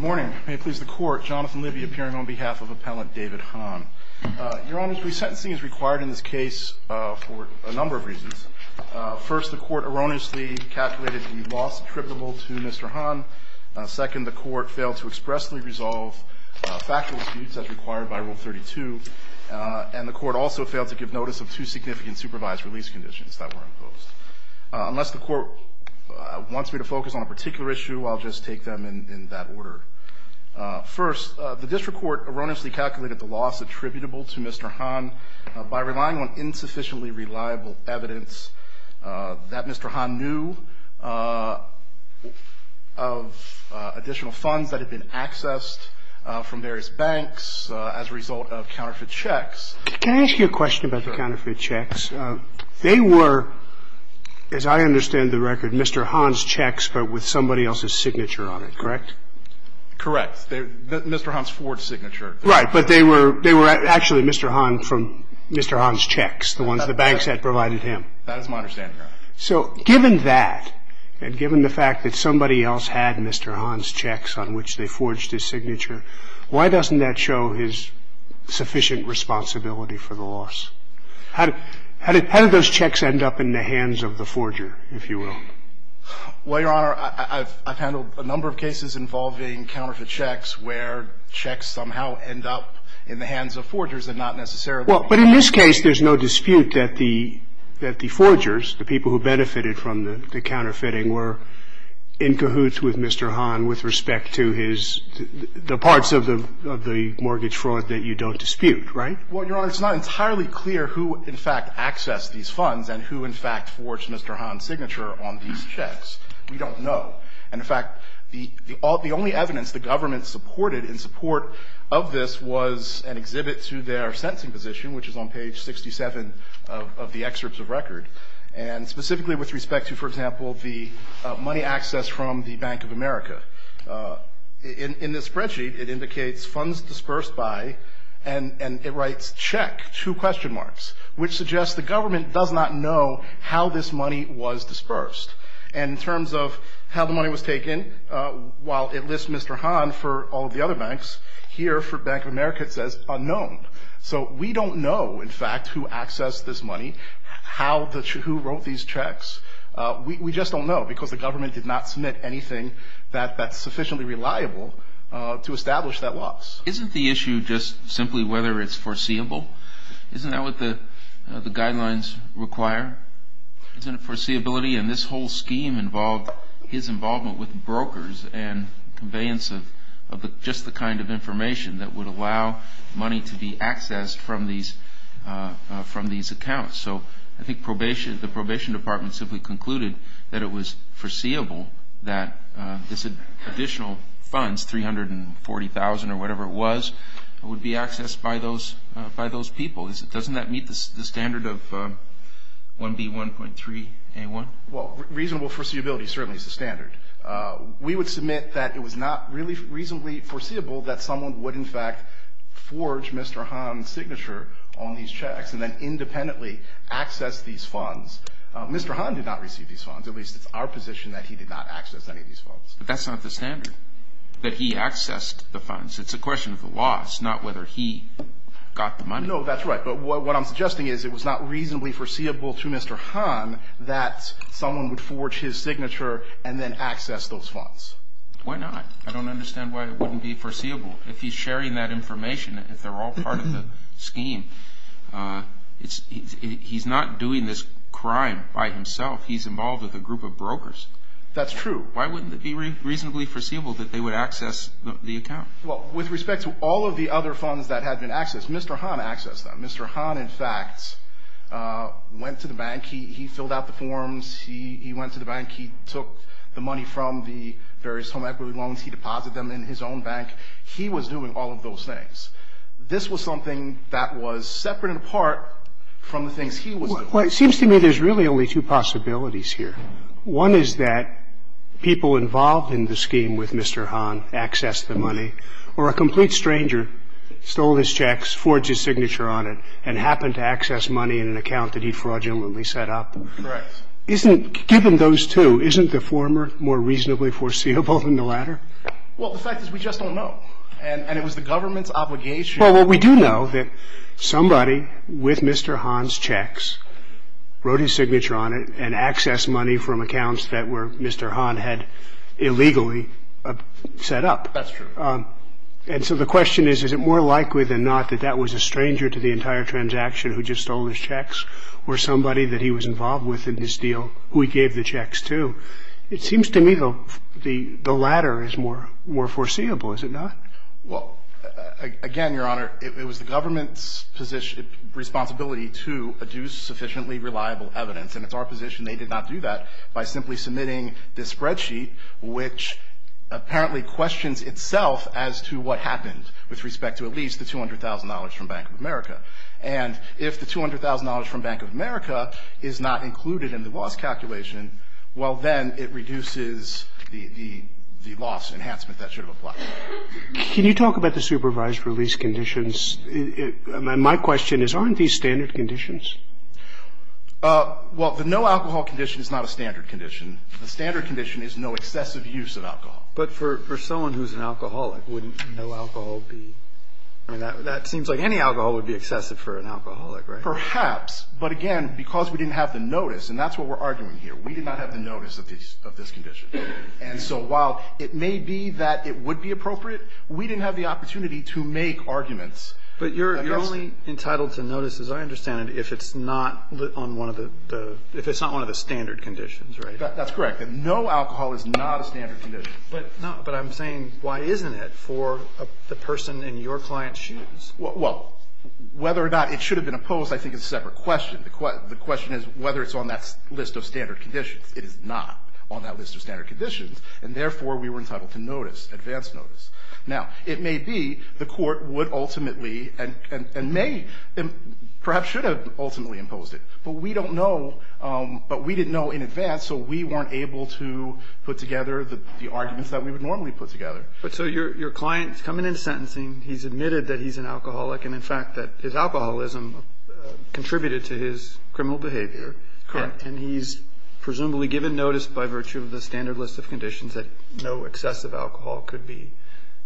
Your Honor, resentencing is required in this case for a number of reasons. First, the court erroneously calculated the loss attributable to Mr. Han. Second, the court failed to expressly resolve factual defeats as required by Rule 32. And the court also failed to give notice of two significant supervised release conditions that were imposed. Unless the court wants me to focus on a particular issue, I'll just take them in that order. First, the district court erroneously calculated the loss attributable to Mr. Han by relying on insufficiently reliable evidence that Mr. Han knew of additional funds that had been accessed from various banks as a result of counterfeit checks. Can I ask you a question about the counterfeit checks? They were, as I understand the record, Mr. Han's checks but with somebody else's signature on it, correct? Correct. Mr. Han's forged signature. Right, but they were actually Mr. Han from Mr. Han's checks, the ones the banks had provided him. So given that, and given the fact that somebody else had Mr. Han's checks on which they forged his signature, why doesn't that show his sufficient responsibility for the loss? How did those checks end up in the hands of the forger, if you will? Well, Your Honor, I've handled a number of cases involving counterfeit checks where checks somehow end up in the hands of forgers and not necessarily... Well, but in this case, there's no dispute that the forgers, the people who benefited from the counterfeiting, were in cahoots with Mr. Han with respect to the parts of the mortgage fraud that you don't dispute, right? Well, Your Honor, it's not entirely clear who, in fact, accessed these funds and who, in fact, forged Mr. Han's signature on these checks. We don't know. And, in fact, the only evidence the government supported in support of this was an exhibit to their sentencing position, which is on page 67 of the excerpts of record. And specifically with respect to, for example, the money accessed from the Bank of America. In this spreadsheet, it indicates funds dispersed by, and it writes check, two question marks, which suggests the government does not know how this money was dispersed. And in terms of how the money was taken, while it lists Mr. Han for all the other banks, here for Bank of America, it says unknown. So we don't know, in fact, who accessed this money, who wrote these checks. We just don't know because the government did not submit anything that's sufficiently reliable to establish that loss. Isn't the issue just simply whether it's foreseeable? Isn't that what the guidelines require? Isn't it foreseeability? And this whole scheme involved his involvement with brokers and conveyance of just the kind of information that would allow money to be accessed from these accounts. So I think the probation department simply concluded that it was foreseeable that this additional funds, $340,000 or whatever it was, would be accessed by those people. Doesn't that meet the standard of 1B1.3A1? Well, reasonable foreseeability certainly is the standard. We would submit that it was not really reasonably foreseeable that someone would, in fact, forge Mr. Han's signature on these checks and then independently access these funds. Mr. Han did not receive these funds. At least it's our position that he did not access any of these funds. But that's not the standard, that he accessed the funds. It's a question of the loss, not whether he got the money. No, that's right. But what I'm suggesting is it was not reasonably foreseeable to Mr. Han that someone would forge his signature and then access those funds. Why not? I don't understand why it wouldn't be foreseeable. If he's sharing that information, if they're all part of the scheme, he's not doing this crime by himself. He's involved with a group of brokers. That's true. Why wouldn't it be reasonably foreseeable that they would access the account? Well, with respect to all of the other funds that had been accessed, Mr. Han accessed them. Mr. Han, in fact, went to the bank. He filled out the forms. He went to the bank. He took the money from the various home equity loans. He deposited them in his own bank. He was doing all of those things. This was something that was separate and apart from the things he was doing. Well, it seems to me there's really only two possibilities here. One is that people involved in the scheme with Mr. Han accessed the money, or a complete stranger stole his checks, forged his signature on it, and happened to access money in an account that he fraudulently set up. Given those two, isn't the former more reasonably foreseeable than the latter? Well, the fact is we just don't know, and it was the government's obligation. Well, we do know that somebody with Mr. Han's checks wrote his signature on it and accessed money from accounts that Mr. Han had illegally set up. That's true. And so the question is, is it more likely than not that that was a stranger to the entire transaction who just stole his checks or somebody that he was involved with in this deal who he gave the checks to? It seems to me the latter is more foreseeable, is it not? Well, again, Your Honor, it was the government's responsibility to adduce sufficiently reliable evidence, and it's our position they did not do that by simply submitting this spreadsheet, which apparently questions itself as to what happened with respect to at least the $200,000 from Bank of America. And if the $200,000 from Bank of America is not included in the loss calculation, well, then it reduces the loss enhancement that should have applied. Can you talk about the supervised release conditions? My question is, aren't these standard conditions? Well, the no-alcohol condition is not a standard condition. The standard condition is no excessive use of alcohol. But for someone who's an alcoholic, wouldn't no alcohol be – I mean, that seems like any alcohol would be excessive for an alcoholic, right? Perhaps. But again, because we didn't have the notice, and that's what we're arguing here, we did not have the notice of this condition. And so while it may be that it would be appropriate, we didn't have the opportunity to make arguments. But you're only entitled to notice, as I understand it, if it's not one of the standard conditions, right? That's correct. No alcohol is not a standard condition. Well, whether or not it should have been opposed, I think, is a separate question. The question is whether it's on that list of standard conditions. It is not on that list of standard conditions, and therefore we were entitled to notice, advance notice. Now, it may be the court would ultimately, and may, perhaps should have ultimately imposed it. But we don't know, but we didn't know in advance, so we weren't able to put together the arguments that we would normally put together. But so your client's coming into sentencing, he's admitted that he's an alcoholic, and in fact that his alcoholism contributed to his criminal behavior, and he's presumably given notice by virtue of the standard list of conditions that no excessive alcohol could be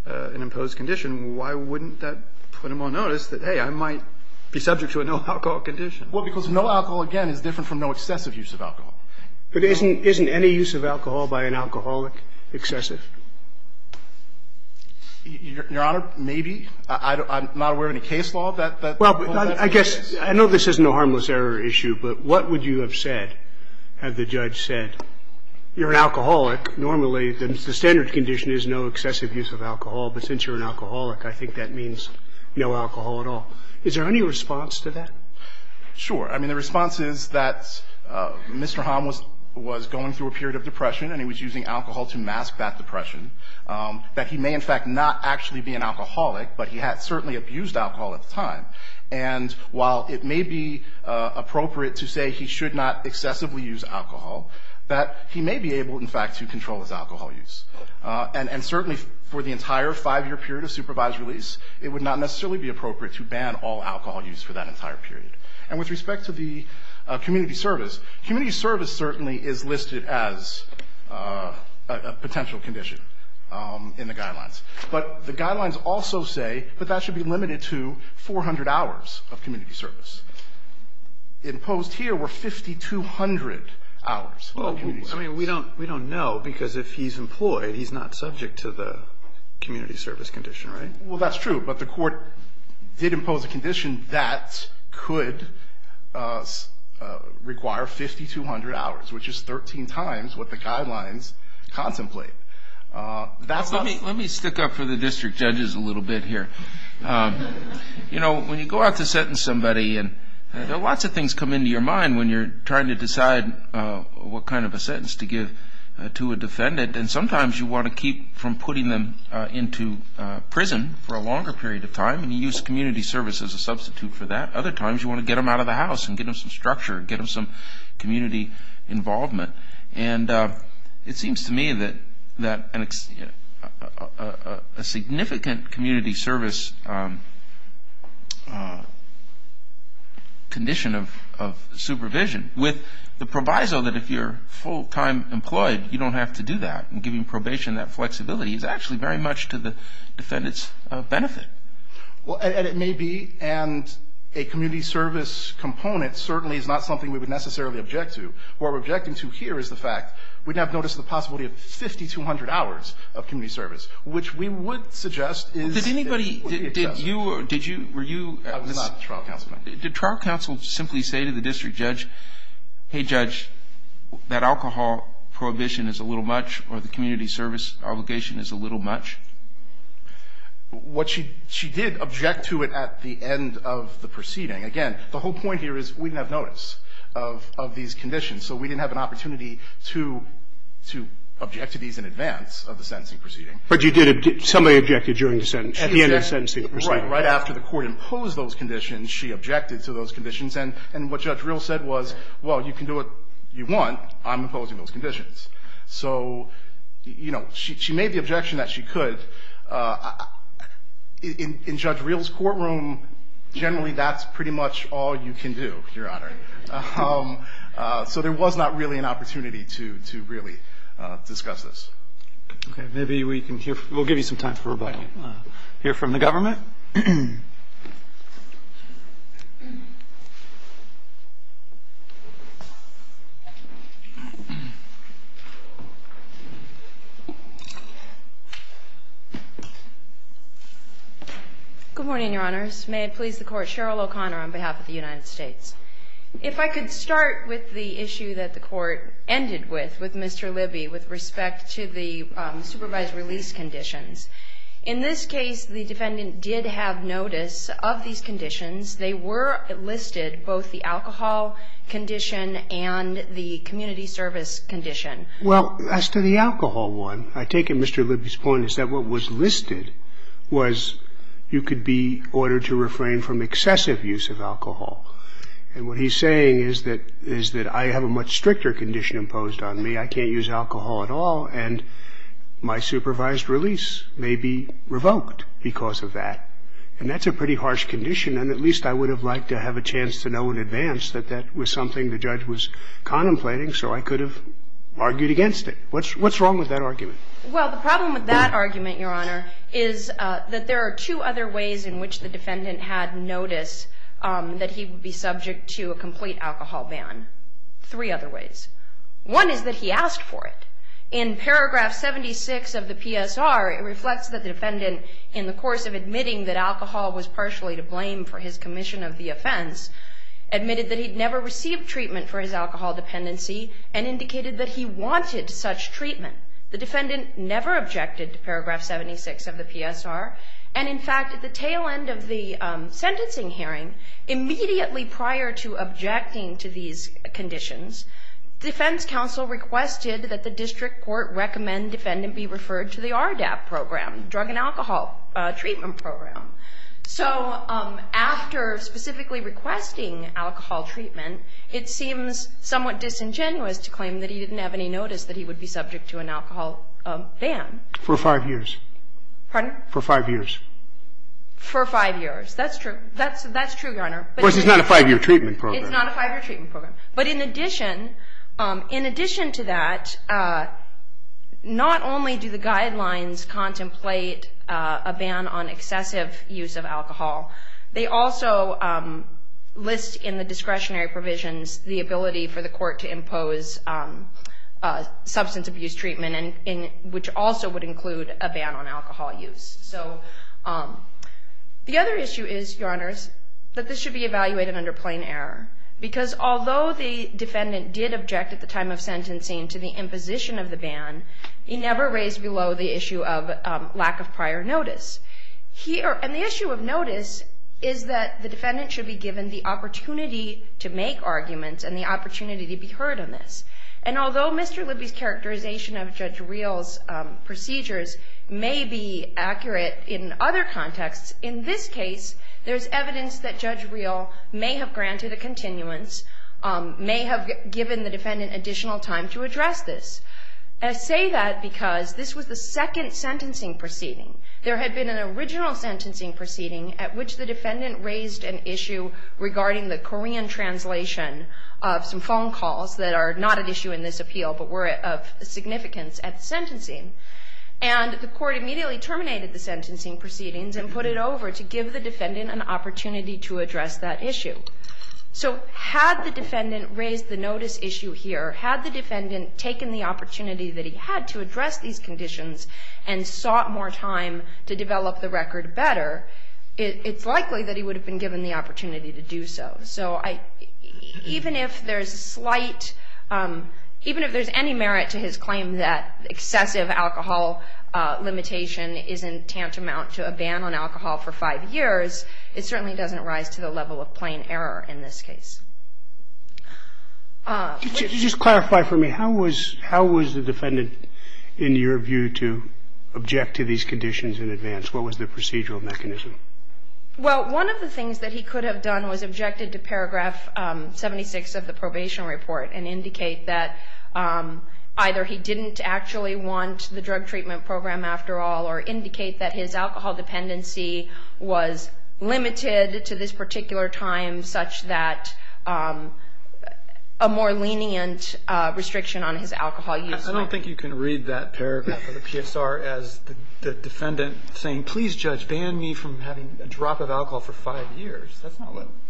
an imposed condition. Why wouldn't that put him on notice that, hey, I might be subject to a no alcohol condition? Well, because no alcohol, again, is different from no excessive use of alcohol. But isn't any use of alcohol by an alcoholic excessive? Your Honor, maybe. I'm not aware of any case law that... Well, I guess, I know this is no harmless error issue, but what would you have said had the judge said, you're an alcoholic, normally the standard condition is no excessive use of alcohol, but since you're an alcoholic, I think that means no alcohol at all. Is there any response to that? Sure. I mean, the response is that Mr. Hom was going through a period of depression and he was using alcohol to mask that depression, that he may in fact not actually be an alcoholic, but he had certainly abused alcohol at the time. And while it may be appropriate to say he should not excessively use alcohol, that he may be able, in fact, to control his alcohol use. And certainly for the entire five-year period of supervised release, it would not necessarily be appropriate to ban all alcohol use for that entire period. And with respect to the community service, community service certainly is listed as a potential condition in the guidelines. But the guidelines also say that that should be limited to 400 hours of community service. Imposed here were 5,200 hours. I mean, we don't know because if he's employed, he's not subject to the community service condition, right? Well, that's true. But the court did impose a condition that could require 5,200 hours, which is 13 times what the guidelines contemplate. Let me stick up for the district judges a little bit here. You know, when you go out to sentence somebody, lots of things come into your mind when you're trying to decide what kind of a sentence to give to a defendant. And sometimes you want to keep from putting them into prison for a longer period of time and you use community service as a substitute for that. Other times you want to get them out of the house and get them some structure and get them some community involvement. And it seems to me that a significant community service condition of supervision, with the proviso that if you're full-time employed, you don't have to do that, and giving probation that flexibility is actually very much to the defendant's benefit. Well, and it may be, and a community service component certainly is not something we would necessarily object to. What we're objecting to here is the fact we'd have notice of the possibility of 5,200 hours of community service, which we would suggest is... Did anybody, did you, were you... I was not a trial counsel. Did trial counsel simply say to the district judge, hey, judge, that alcohol prohibition is a little much or the community service obligation is a little much? What she did object to it at the end of the proceeding. Again, the whole point here is we didn't have notice of these conditions, so we didn't have an opportunity to object to these in advance of the sentencing proceeding. But you did, somebody objected during the sentence, in the sentencing proceeding. Right. Right after the court imposed those conditions, she objected to those conditions, and what Judge Reel said was, well, you can do what you want, I'm imposing those conditions. So, you know, she made the objection that she could. In Judge Reel's courtroom, generally that's pretty much all you can do, Your Honor. So there was not really an opportunity to really discuss this. Okay, maybe we can hear, we'll give you some time for rebuttal. Hear from the government? Good morning, Your Honors. May it please the Court, Cheryl O'Connor on behalf of the United States. If I could start with the issue that the Court ended with, with Mr. Libby, with respect to the supervised release conditions. In this case, the defendant did have notice of these conditions. They were listed, both the alcohol condition and the community service condition. Well, as to the alcohol one, I take it Mr. Libby's point is that what was listed was you could be ordered to refrain from excessive use of alcohol. And what he's saying is that I have a much stricter condition imposed on me, I can't use alcohol at all, and my supervised release may be revoked because of that. And that's a pretty harsh condition, and at least I would have liked to have a chance to know in advance that that was something the judge was contemplating so I could have argued against it. What's wrong with that argument? Well, the problem with that argument, Your Honor, is that there are two other ways in which the defendant had notice that he'd be subject to a complete alcohol ban. Three other ways. One is that he asked for it. In paragraph 76 of the PSR, it reflects that the defendant, in the course of admitting that alcohol was partially to blame for his commission of the offense, admitted that he'd never received treatment for his alcohol dependency and indicated that he wanted such treatment. The defendant never objected to paragraph 76 of the PSR. And, in fact, at the tail end of the sentencing hearing, immediately prior to objecting to these conditions, defense counsel requested that the district court recommend defendant be referred to the RDAP program, Drug and Alcohol Treatment Program. So after specifically requesting alcohol treatment, it seems somewhat disingenuous to claim that he didn't have any notice that he would be subject to an alcohol ban. For five years. Pardon? For five years. For five years. That's true. That's true, Your Honor. Of course, it's not a five-year treatment program. It's not a five-year treatment program. But in addition, in addition to that, not only do the guidelines contemplate a ban on excessive use of alcohol, they also list in the discretionary provisions the ability for the court to impose substance abuse treatment, which also would include a ban on alcohol use. So the other issue is, Your Honors, that this should be evaluated under plain error. Because although the defendant did object at the time of sentencing to the imposition of the ban, he never raised below the issue of lack of prior notice. And the issue of notice is that the defendant should be given the opportunity to make arguments and the opportunity to be heard on this. And although Mr. Libby's characterization of Judge Real's procedures may be accurate in other contexts, in this case there's evidence that Judge Real may have granted a continuance, may have given the defendant additional time to address this. I say that because this was the second sentencing proceeding. There had been an original sentencing proceeding at which the defendant raised an issue regarding the Korean translation of some phone calls that are not at issue in this appeal, but were of significance at the sentencing. And the court immediately terminated the sentencing proceedings and put it over to give the defendant an opportunity to address that issue. So had the defendant raised the notice issue here, had the defendant taken the opportunity that he had to address these conditions and sought more time to develop the record better, it's likely that he would have been given the opportunity to do so. So even if there's slight, even if there's any merit to his claim that excessive alcohol limitation isn't tantamount to a ban on alcohol for five years, it certainly doesn't rise to the level of plain error in this case. Could you just clarify for me, how was the defendant in your view to object to these conditions in advance? What was the procedural mechanism? Well, one of the things that he could have done was objected to paragraph 76 of the probation report and indicate that either he didn't actually want the drug treatment program after all or indicate that his alcohol dependency was limited to this particular time in such that a more lenient restriction on his alcohol use. I don't think you can read that paragraph of the PSR as the defendant saying, please judge, ban me from having a drop of alcohol for five years.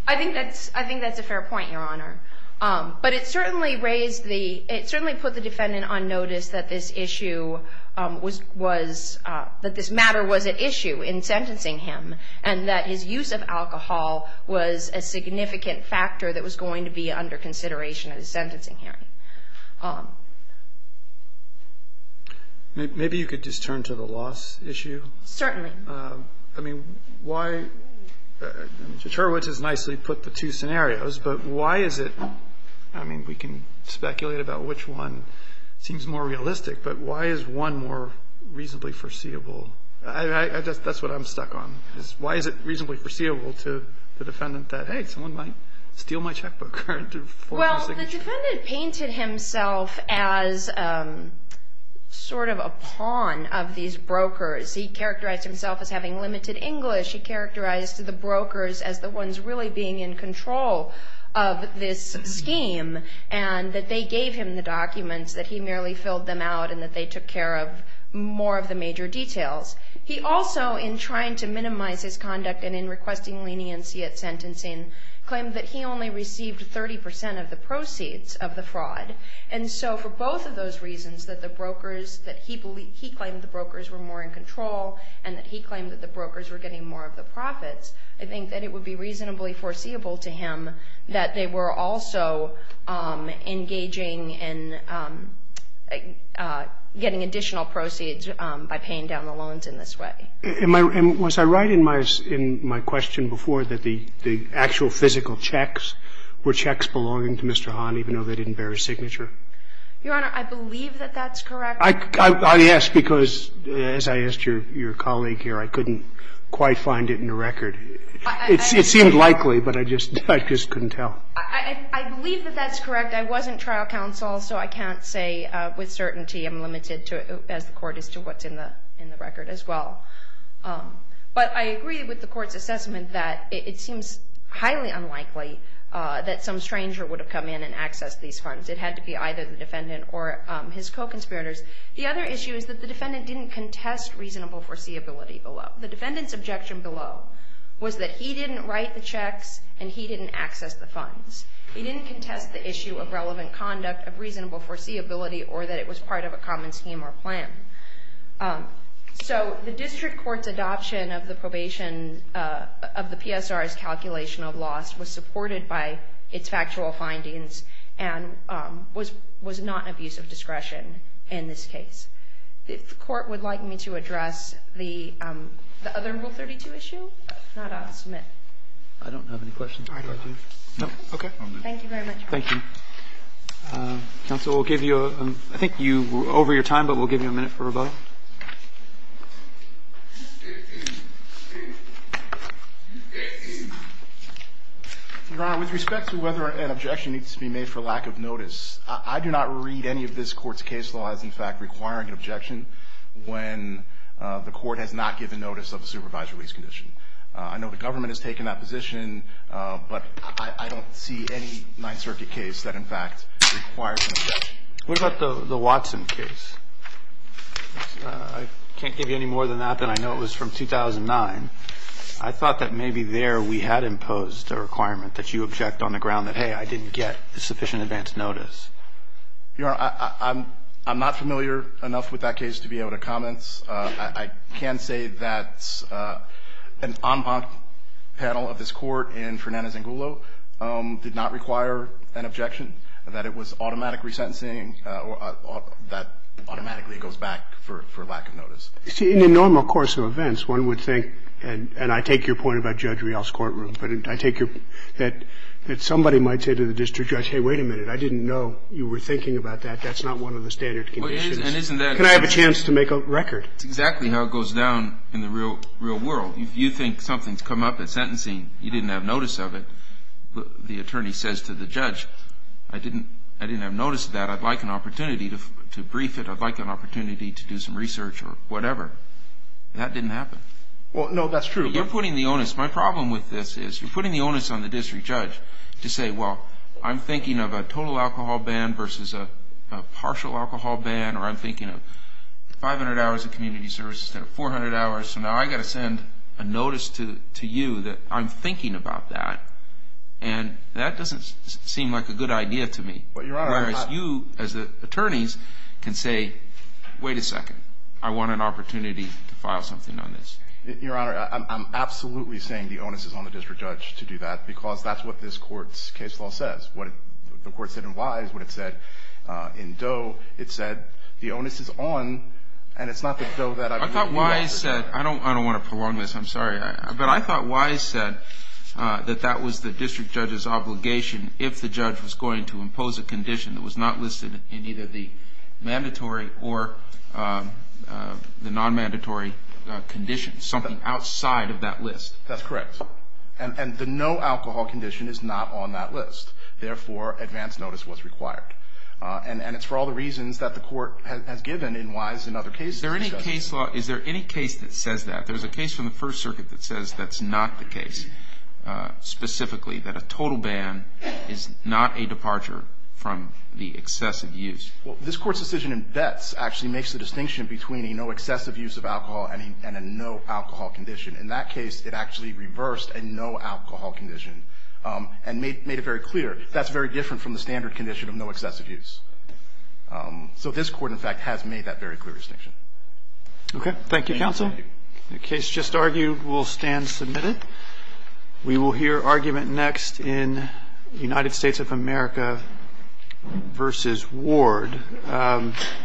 I think that's a fair point, Your Honor. But it certainly put the defendant on notice that this matter was at issue in sentencing him and that his use of alcohol was a significant factor that was going to be under consideration in sentencing him. Maybe you could just turn to the loss issue. Certainly. I mean, why – Mr. Churwitz has nicely put the two scenarios, but why is it – I mean, we can speculate about which one seems more realistic, but why is one more reasonably foreseeable? That's what I'm stuck on. Why is it reasonably foreseeable to the defendant that, hey, someone might steal my checkbook. Well, the defendant painted himself as sort of a pawn of these brokers. He characterized himself as having limited English. He characterized the brokers as the ones really being in control of this scheme and that they gave him the documents that he merely filled them out and that they took care of more of the major details. He also, in trying to minimize his conduct and in requesting leniency at sentencing, claimed that he only received 30% of the proceeds of the fraud. And so for both of those reasons, that the brokers – that he claimed the brokers were more in control and that he claimed that the brokers were getting more of the profits, I think that it would be reasonably foreseeable to him that they were also engaging in getting additional proceeds by paying down the loans in this way. And was I right in my question before that the actual physical checks were checks belonging to Mr. Hahn even though they didn't bear his signature? Your Honor, I believe that that's correct. I ask because, as I asked your colleague here, I couldn't quite find it in the record. It seemed likely, but I just couldn't tell. I believe that that's correct. I wasn't trial counsel, so I can't say with certainty. I'm limited, as the Court is, to what's in the record as well. But I agree with the Court's assessment that it seems highly unlikely that some stranger would have come in and accessed these funds. It had to be either the defendant or his co-conspirators. The other issue is that the defendant didn't contest reasonable foreseeability below. The defendant's objection below was that he didn't write the checks and he didn't access the funds. He didn't contest the issue of relevant conduct, of reasonable foreseeability, or that it was part of a common scheme or plan. So the District Court's adoption of the probation of the PSR's calculation of loss was supported by its actual findings and was not an abuse of discretion in this case. The Court would like me to address the other Rule 32 issue? I don't have any questions. Okay. Thank you very much. Thank you. Counsel, I think you're over your time, but we'll give you a minute for rebuttal. Your Honor, with respect to whether an objection needs to be made for lack of notice, I do not read any of this Court's case law as, in fact, requiring an objection when the Court has not given notice of a supervised release condition. I know the government has taken that position, but I don't see any Ninth Circuit case that, in fact, requires an objection. What about the Watson case? I can't give you any more than that than I know it was from 2009. I thought that maybe there we had imposed a requirement that you object on the ground that, hey, I didn't get sufficient advance notice. Your Honor, I'm not familiar enough with that case to be able to comment. I can say that an en banc panel of this Court in Fernandez and Gullo did not require an objection, that it was automatic resentencing, that automatically it goes back for lack of notice. You see, in the normal course of events, one would think, and I take your point about Judge Rial's courtroom, that somebody might say to the district judge, hey, wait a minute, I didn't know you were thinking about that. That's not one of the standard conditions. Can I have a chance to make a record? Exactly how it goes down in the real world. You think something's come up at sentencing. You didn't have notice of it. The attorney says to the judge, I didn't have notice of that. I'd like an opportunity to brief it. I'd like an opportunity to do some research or whatever. That didn't happen. Well, no, that's true. You're putting the onus. My problem with this is you're putting the onus on the district judge to say, well, I'm thinking of a total alcohol ban versus a partial alcohol ban, or I'm thinking of 500 hours of community services, 400 hours, so now I've got to send a notice to you that I'm thinking about that, and that doesn't seem like a good idea to me. Whereas you, as attorneys, can say, wait a second, I want an opportunity to file something on this. Your Honor, I'm absolutely saying the onus is on the district judge to do that because that's what this court's case law says. What the court said in Wise, what it said in Doe, it said the onus is on, and it's not that Doe that I believe in. I don't want to prolong this. I'm sorry. But I thought Wise said that that was the district judge's obligation if the judge was going to impose a condition that was not listed in either the mandatory or the non-mandatory conditions, something outside of that list. That's correct. And the no alcohol condition is not on that list. Therefore, advance notice was required. And it's for all the reasons that the court has given in Wise and other cases. Is there any case that says that? There's a case from the First Circuit that says that's not the case, specifically that a total ban is not a departure from the excessive use. Well, this court's decision in Betz actually makes the distinction between a no excessive use of alcohol and a no alcohol condition. In that case, it actually reversed a no alcohol condition and made it very clear that's very different from the standard condition of no excessive use. So this court, in fact, has made that very clear distinction. Okay. Thank you, counsel. The case just argued will stand submitted. We will hear argument next in United States of America v. Ward.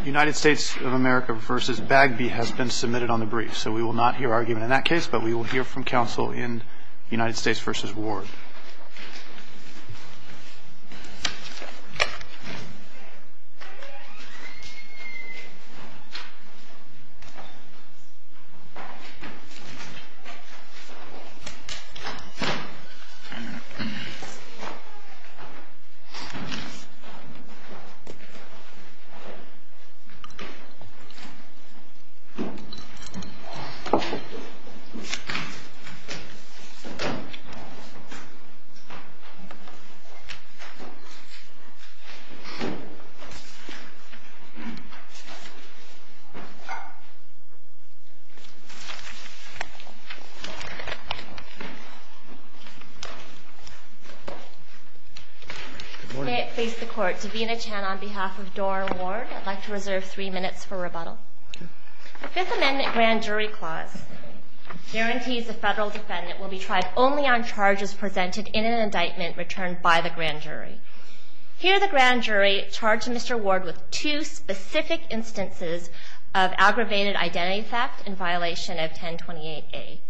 United States of America v. Bagby has been submitted on the brief, so we will not hear argument in that case, but we will hear from counsel in United States v. Ward. Thank you. Okay. It's face to court. Sabina Chan on behalf of Doar and Ward. I'd like to reserve three minutes for rebuttal. Okay. The Fifth Amendment grand jury clause guarantees the federal defendant will be tried only on charges presented in an indictment returned by the grand jury. Here, the grand jury charged Mr. Ward with two specific instances of aggravated identity theft in violation of 1028A.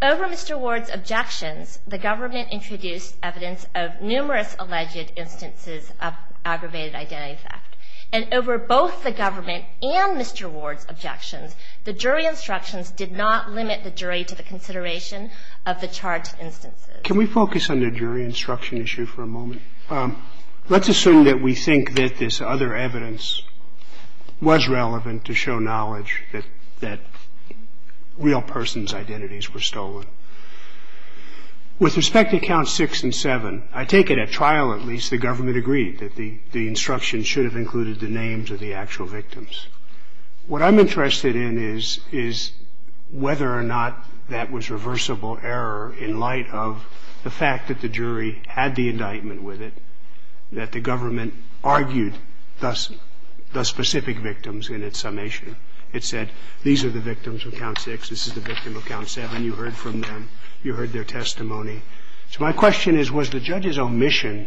Over Mr. Ward's objections, the government introduced evidence of numerous alleged instances of aggravated identity theft. And over both the government and Mr. Ward's objections, the jury instructions did not limit the jury to the consideration of the charged instances. Can we focus on the jury instruction issue for a moment? Let's assume that we think that this other evidence was relevant to show knowledge that real persons' identities were stolen. With respect to counts six and seven, I take it at trial, at least, the government agreed that the instruction should have included the names of the actual victims. What I'm interested in is whether or not that was reversible error in light of the fact that the jury had the indictment with it, that the government argued the specific victims in its summation. It said, these are the victims of count six, this is the victim of count seven. You heard from them. You heard their testimony. So my question is, was the judge's omission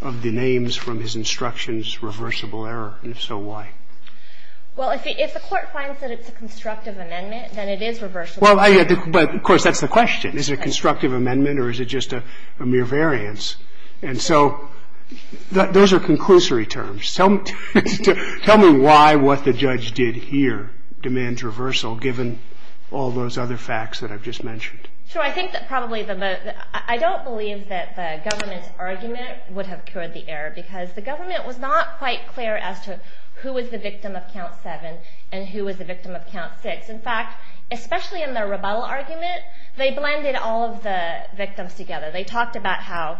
of the names from his instructions reversible error? And if so, why? Well, if the court finds that it's a constructive amendment, then it is reversible. Well, of course, that's the question. Is it a constructive amendment or is it just a mere variance? And so those are conclusory terms. Tell me why what the judge did here demands reversal, given all those other facts that I've just mentioned. I don't believe that the government's argument would have cured the error, because the government was not quite clear as to who was the victim of count seven and who was the victim of count six. In fact, especially in their rebuttal argument, they blended all of the victims together. They talked about how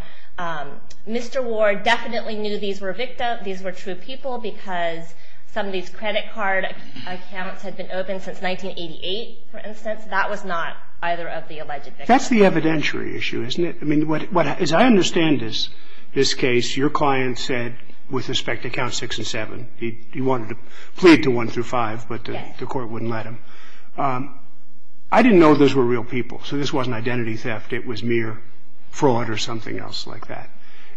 Mr. Ward definitely knew these were victims, these were true people, because some of these credit card accounts had been open since 1988, for instance. That was not either of the alleged victims. That's the evidentiary issue, isn't it? I mean, as I understand this case, your client said, with respect to count six and seven, he wanted to plead to one through five, but the court wouldn't let him. I didn't know if those were real people, so this wasn't identity theft. It was mere fraud or something else like that.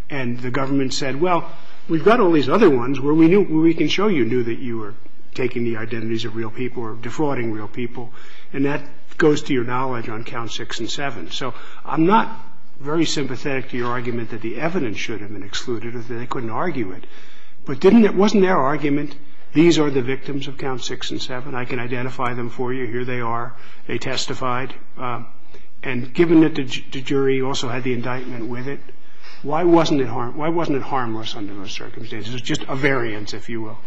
And the government said, well, we've got all these other ones where we can show you knew that you were taking the identities of real people or defrauding real people, and that goes to your knowledge on count six and seven. So I'm not very sympathetic to your argument that the evidence should have been excluded or that they couldn't argue it. But it wasn't their argument. These are the victims of count six and seven. I can identify them for you. Here they are. They testified. And given that the jury also had the indictment with it, why wasn't it harmless under those circumstances? It was just a variance, if you will.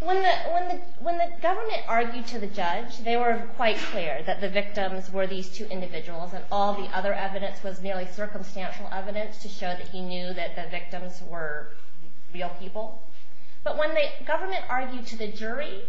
When the government argued to the judge, they were quite clear that the victims were these two individuals and all the other evidence was merely circumstantial evidence to show that he knew that the victims were real people. But when the government argued to the jury,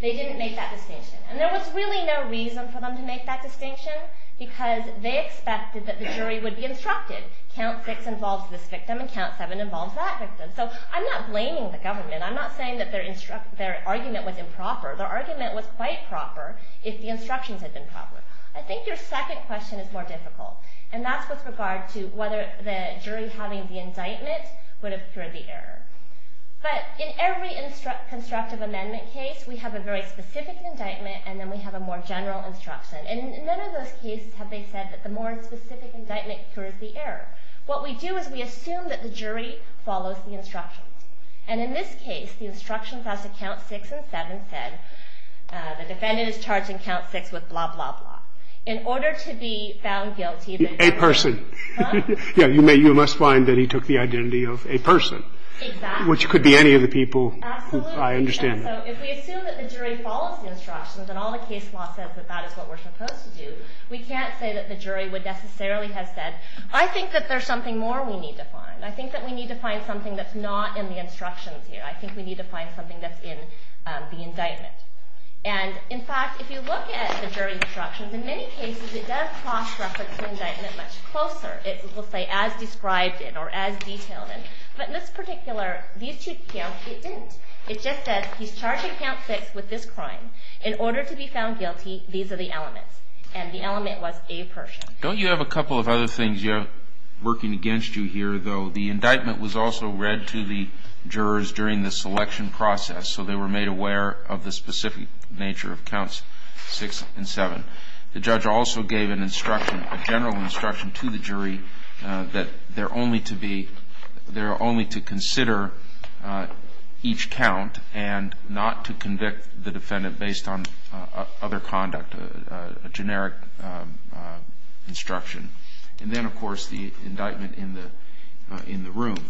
they didn't make that distinction. And there was really no reason for them to make that distinction because they expected that the jury would be instructed, count six involves this victim and count seven involves that victim. So I'm not blaming the government. I'm not saying that their argument was improper. Their argument would be quite proper if the instructions had been proper. I think your second question is more difficult, and that's with regard to whether the jury having the indictment would absorb the error. But in every constructive amendment case, we have a very specific indictment and then we have a more general instruction. And in none of those cases have they said that the more specific indictment accrues the error. What we do is we assume that the jury follows the instructions. And in this case, the instructions on the count six and seven said the defendant is charged in count six with blah, blah, blah. In order to be found guilty... A person. You must find that he took the identity of a person. Exactly. Which could be any of the people. Absolutely. I understand that. If we assume that the jury follows the instructions and all the case law says that that is what we're supposed to do, we can't say that the jury would necessarily have said, I think that there's something more we need to find. I think that we need to find something that's not in the instructions here. I think we need to find something that's in the indictment. And, in fact, if you look at the jury's instructions, in many cases it does cross-reference the indictment much closer. It will say as described in or as detailed in. But in this particular, these two counts, it just says he's charged in count six with this crime. In order to be found guilty, these are the elements. And the element was a person. Don't you have a couple of other things working against you here, though? The indictment was also read to the jurors during the selection process, so they were made aware of the specific nature of counts six and seven. The judge also gave an instruction, a general instruction to the jury that they're only to consider each count and not to convict the defendant based on other conduct, a generic instruction. And then, of course, the indictment in the room.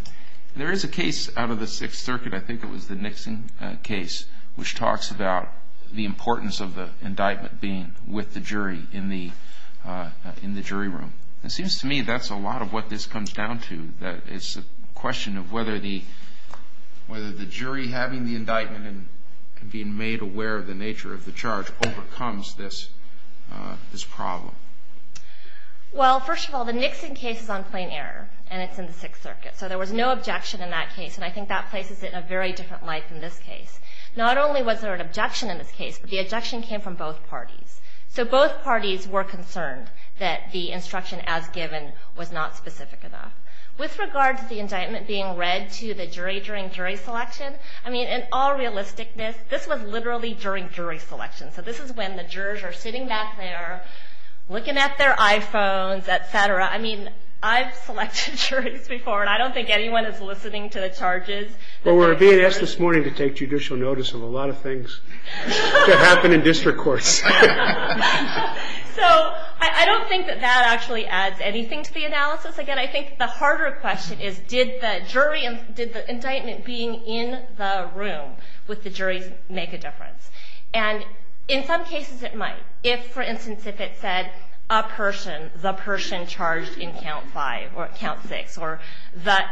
There is a case out of the Sixth Circuit, I think it was the Nixon case, which talks about the importance of the indictment being with the jury in the jury room. It seems to me that's a lot of what this comes down to, that it's a question of whether the jury having the indictment and being made aware of the nature of the charge overcomes this problem. Well, first of all, the Nixon case is on plain error, and it's in the Sixth Circuit. So there was no objection in that case, and I think that places it in a very different light than this case. Not only was there an objection in this case, but the objection came from both parties. So both parties were concerned that the instruction as given was not specific enough. With regard to the indictment being read to the jury during jury selection, I mean, in all realisticness, this was literally during jury selection. So this is when the jurors are sitting back there looking at their iPhones, et cetera. I mean, I've selected jurors before, and I don't think anyone is listening to the charges. Well, we're being asked this morning to take judicial notice of a lot of things that happen in district courts. So I don't think that that actually adds anything to the analysis. Again, I think the harder question is, did the indictment being in the room with the jury make a difference? And in some cases it might. If, for instance, if it said, a person, the person charged in Count 5 or Count 6, or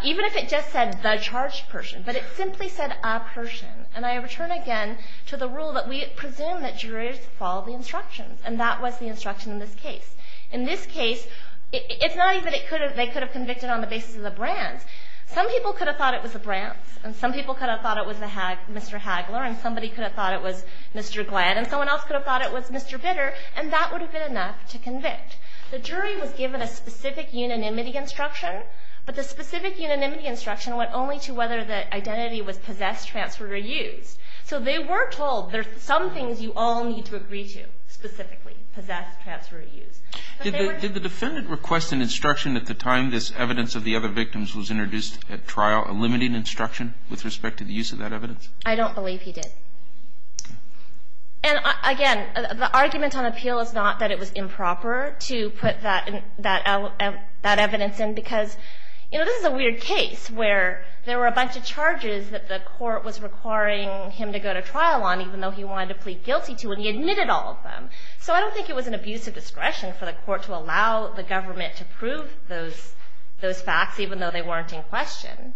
even if it just said the charged person, but it simply said a person. And I return again to the rule that we presume that jurors follow the instructions, and that was the instruction in this case. In this case, it's not even that they could have convicted on the basis of the brand. Some people could have thought it was a brand, and some people could have thought it was Mr. Hagler, and somebody could have thought it was Mr. Glad, and someone else could have thought it was Mr. Bitter, and that would have been enough to convict. The jury was given a specific unanimity instruction, but the specific unanimity instruction went only to whether the identity was possessed, transferred, or used. So they were told there's some things you all need to agree to specifically, possessed, transferred, or used. Did the defendant request an instruction at the time this evidence of the other victims was introduced at trial, a limiting instruction with respect to the use of that evidence? I don't believe he did. And again, the argument on appeal is not that it was improper to put that evidence in because, you know, this is a weird case where there were a bunch of charges that the court was requiring him to go to trial on, even though he wanted to plead guilty to, and he admitted all of them. So I don't think it was an abuse of discretion for the court to allow the government to prove those facts, even though they weren't in question.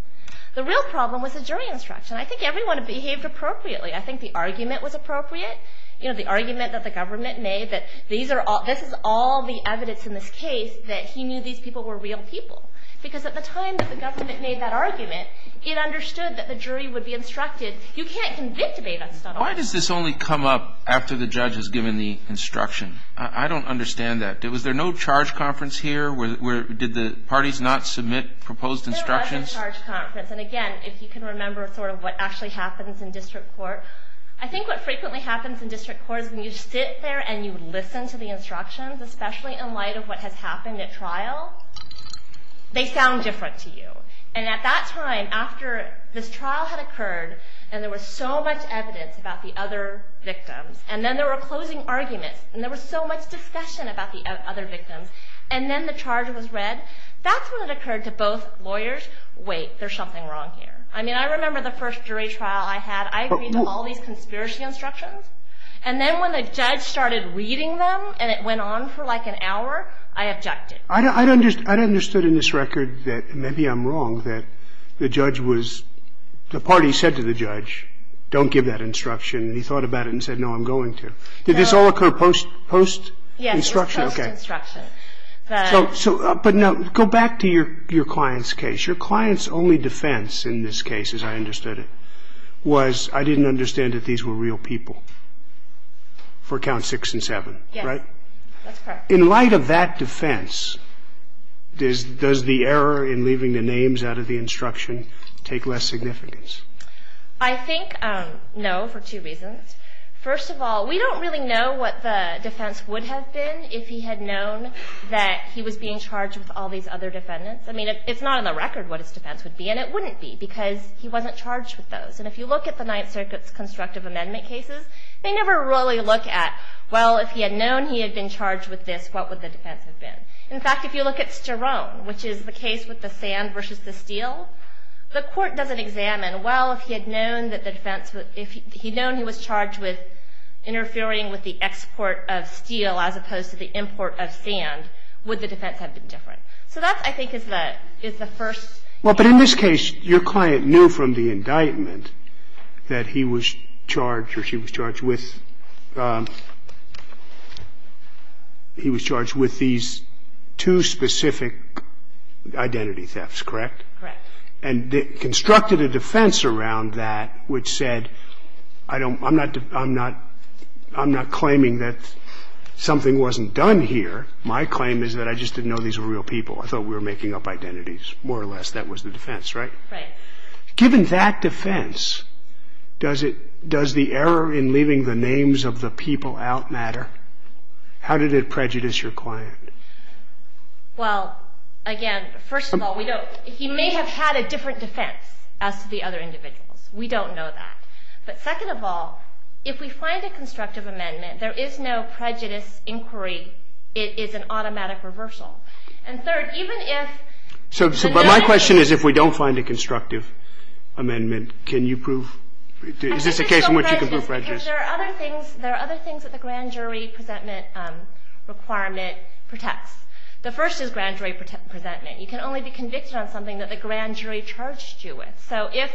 The real problem was the jury instruction. I think everyone behaved appropriately. I think the argument was appropriate. You know, the argument that the government made that this is all the evidence in this case that he knew these people were real people. Because at the time that the government made that argument, it understood that the jury would be instructed. You can't convict a defendant. Why does this only come up after the judge has given the instruction? I don't understand that. Was there no charge conference here? Did the parties not submit proposed instructions? There was no charge conference. And, again, if you can remember sort of what actually happens in district court, I think what frequently happens in district court is when you sit there and you listen to the instructions, especially in light of what has happened at trial, they sound different to you. And at that time, after this trial had occurred, and there was so much evidence about the other victims, and then there were closing arguments, and there was so much discussion about the other victims, and then the charge was read, that's when it occurred to both lawyers, wait, there's something wrong here. I mean, I remember the first jury trial I had. I agreed to all these conspiracy instructions. And then when the judge started reading them and it went on for like an hour, I objected. I don't understand in this record that maybe I'm wrong, that the judge was, the party said to the judge, don't give that instruction. He thought about it and said, no, I'm going to. Did this all occur post-instruction? Post-instruction. But go back to your client's case. Your client's only defense in this case, as I understood it, was I didn't understand that these were real people for count six and seven, right? Yes, that's correct. In light of that defense, does the error in leaving the names out of the instruction take less significance? I think no, for two reasons. First of all, we don't really know what the defense would have been if he had known that he was being charged with all these other defendants. I mean, it's not on the record what his defense would be, and it wouldn't be because he wasn't charged with those. And if you look at the Ninth Circuit's constructive amendment cases, they never really look at, well, if he had known he had been charged with this, what would the defense have been? In fact, if you look at Sterone, which is the case with the sand versus the steel, the court doesn't examine, well, if he had known that the defense, if he had known he was charged with interfering with the export of steel as opposed to the import of sand, would the defense have been different? So that, I think, is the first. Well, but in this case, your client knew from the indictment that he was charged or she was charged with, he was charged with these two specific identity thefts, correct? Correct. And constructed a defense around that which said, I'm not claiming that something wasn't done here. My claim is that I just didn't know these were real people. I thought we were making up identities, more or less. That was the defense, right? Right. Given that defense, does the error in leaving the names of the people out matter? How did it prejudice your client? Well, again, first of all, he may have had a different defense as to the other individuals. We don't know that. But second of all, if we find a constructive amendment, there is no prejudice inquiry. It is an automatic reversal. And third, even if – But my question is if we don't find a constructive amendment, can you prove – is this a case in which you can prove prejudice? There are other things that the grand jury presentment requirement protects. The first is grand jury presentment. You can only be convicted of something that the grand jury charged you with. So if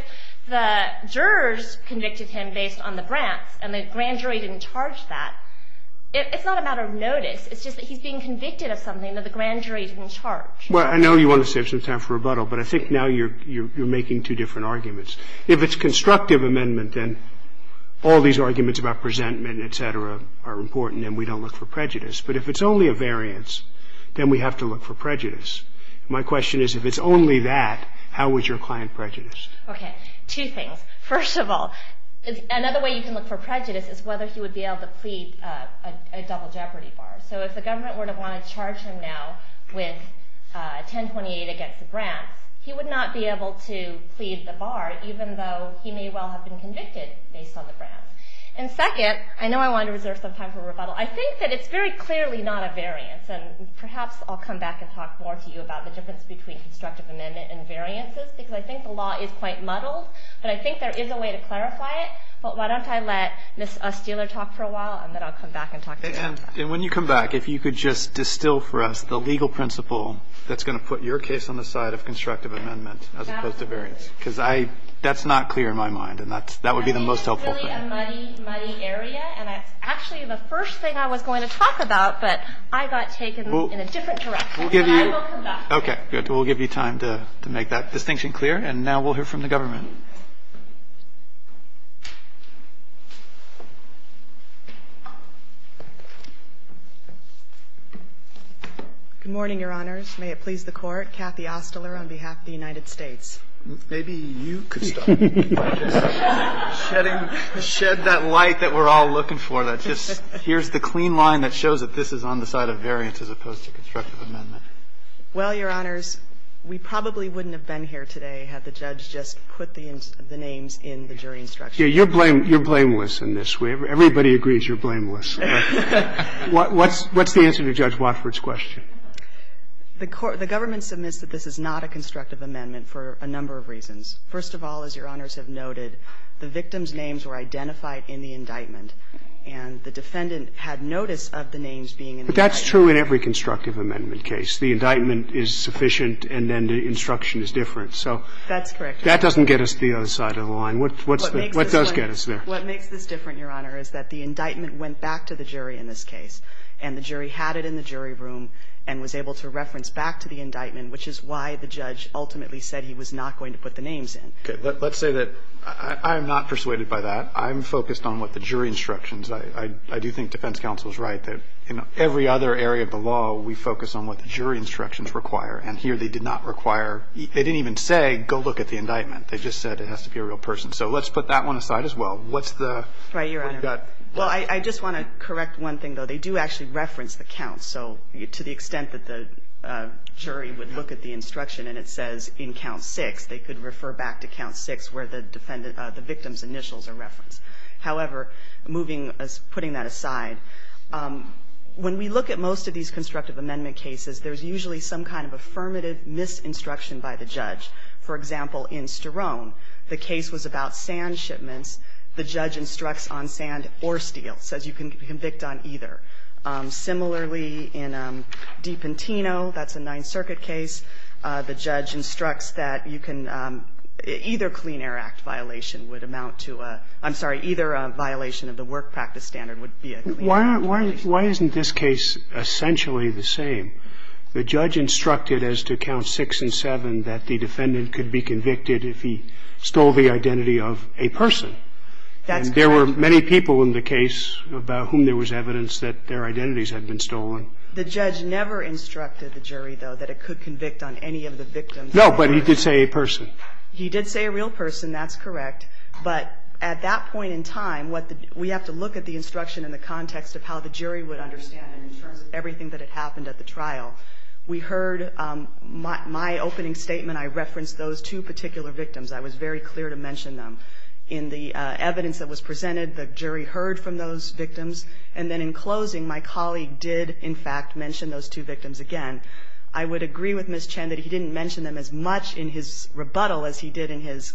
the jurors convicted him based on the grant and the grand jury didn't charge that, it's not a matter of notice. It's just that he's being convicted of something that the grand jury didn't charge. Well, I know you want to save some time for rebuttal, but I think now you're making two different arguments. If it's constructive amendment, then all these arguments about presentment, et cetera, are important and we don't look for prejudice. But if it's only a variance, then we have to look for prejudice. My question is if it's only that, how is your client prejudiced? Okay, two things. First of all, another way you can look for prejudice is whether he would be able to plead a double jeopardy bar. So if the government were to want to charge him now with 1028 against the grant, he would not be able to plead the bar, even though he may well have been convicted based on the grant. And second, I know I want to reserve some time for rebuttal. I think that it's very clearly not a variance, and perhaps I'll come back and talk more to you about the difference between constructive amendment and variances, because I think the law is quite muddled. But I think there is a way to clarify it. But why don't I let Ms. Steeler talk for a while, and then I'll come back and talk again. And when you come back, if you could just distill for us the legal principle that's going to put your case on the side of constructive amendment as opposed to variance. Because that's not clear in my mind, and that would be the most helpful thing. It's really a muddy, muddy area, and actually the first thing I was going to talk about, but I got taken in a different direction. I will come back. Okay, good. We'll give you time to make that distinction clear. And now we'll hear from the government. Good morning, Your Honors. May it please the Court. Kathy Ostler on behalf of the United States. Maybe you could start. Shed that light that we're all looking for. Here's the clean line that shows that this is on the side of variance as opposed to constructive amendment. Well, Your Honors, we probably wouldn't have been here today had the judge just put this on the side of variance. You're blameless in this. Everybody agrees you're blameless. What's the answer to Judge Watford's question? The government submits that this is not a constructive amendment for a number of reasons. First of all, as Your Honors have noted, the victim's names were identified in the indictment, and the defendant had notice of the names being in the indictment. But that's true in every constructive amendment case. The indictment is sufficient, and then the instruction is different. That's correct. That doesn't get us to the other side of the line. What does get us there? What makes this different, Your Honor, is that the indictment went back to the jury in this case, and the jury had it in the jury room and was able to reference back to the indictment, which is why the judge ultimately said he was not going to put the names in. Okay. Let's say that I'm not persuaded by that. I'm focused on what the jury instructions. I do think defense counsel is right that in every other area of the law, we focus on what the jury instructions require, and here they did not require. They didn't even say, go look at the indictment. They just said it has to be a real person. So let's put that one aside as well. What's the... Right, Your Honor. Well, I just want to correct one thing, though. They do actually reference the counts, so to the extent that the jury would look at the instruction and it says in count six, they could refer back to count six where the victim's initials are referenced. However, putting that aside, when we look at most of these constructive amendment cases, there's usually some kind of affirmative misinstruction by the judge. For example, in Sterone, the case was about sand shipments. The judge instructs on sand or steel. It says you can convict on either. Similarly, in Dipentino, that's a Ninth Circuit case. The judge instructs that you can... Either Clean Air Act violation would amount to a... I'm sorry, either a violation of the work practice standard would be... Why isn't this case essentially the same? The judge instructed as to count six and seven that the defendant could be convicted if he stole the identity of a person. And there were many people in the case about whom there was evidence that their identities had been stolen. The judge never instructed the jury, though, that it could convict on any of the victims. No, but he did say a person. He did say a real person. That's correct. But at that point in time, we have to look at the instruction in the context of how the jury would understand it in terms of everything that had happened at the trial. We heard my opening statement. I referenced those two particular victims. I was very clear to mention them. In the evidence that was presented, the jury heard from those victims. And then in closing, my colleague did, in fact, mention those two victims again. I would agree with Ms. Chen that he didn't mention them as much in his rebuttal as he did in his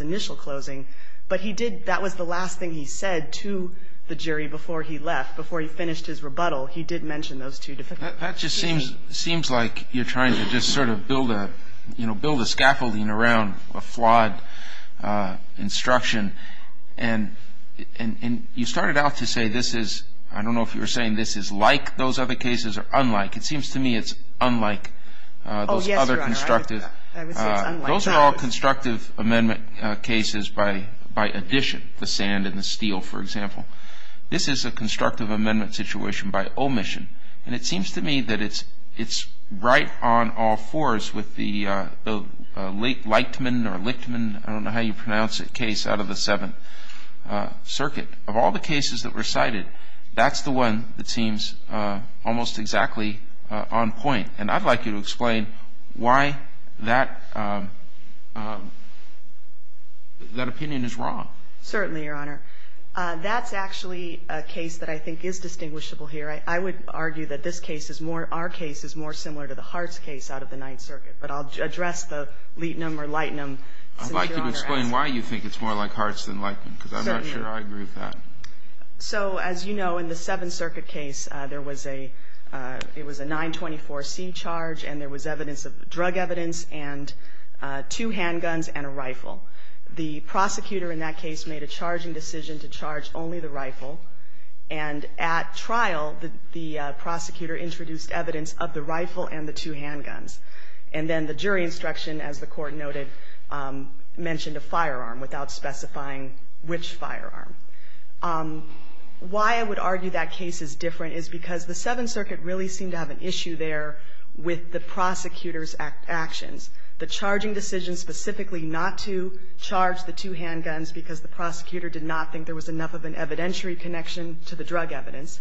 initial closing, but that was the last thing he said to the jury before he left, before he finished his rebuttal. He did mention those two victims. That just seems like you're trying to just sort of build a scaffolding around a flawed instruction. And you started out to say this is, I don't know if you were saying this is like those other cases or unlike. It seems to me it's unlike those other constructive. Those are all constructive amendment cases by addition, the sand and the steel, for example. This is a constructive amendment situation by omission. And it seems to me that it's right on all fours with the Lightman or Lichtman, I don't know how you pronounce it, case out of the Seventh Circuit. Of all the cases that were cited, that's the one that seems almost exactly on point. And I'd like you to explain why that opinion is wrong. Certainly, Your Honor. That's actually a case that I think is distinguishable here. I would argue that this case is more, our case is more similar to the Hartz case out of the Ninth Circuit. But I'll address the Litman or Lichtman. I'd like you to explain why you think it's more like Hartz than Lichtman, because I'm not sure I agree with that. So, as you know, in the Seventh Circuit case, there was a 924C charge, and there was drug evidence and two handguns and a rifle. The prosecutor in that case made a charging decision to charge only the rifle. And at trial, the prosecutor introduced evidence of the rifle and the two handguns. And then the jury instruction, as the Court noted, mentioned a firearm without specifying which firearm. Why I would argue that case is different is because the Seventh Circuit really seemed to have an issue there with the prosecutor's actions. The charging decision specifically not to charge the two handguns because the prosecutor did not think there was enough of an evidentiary connection to the drug evidence,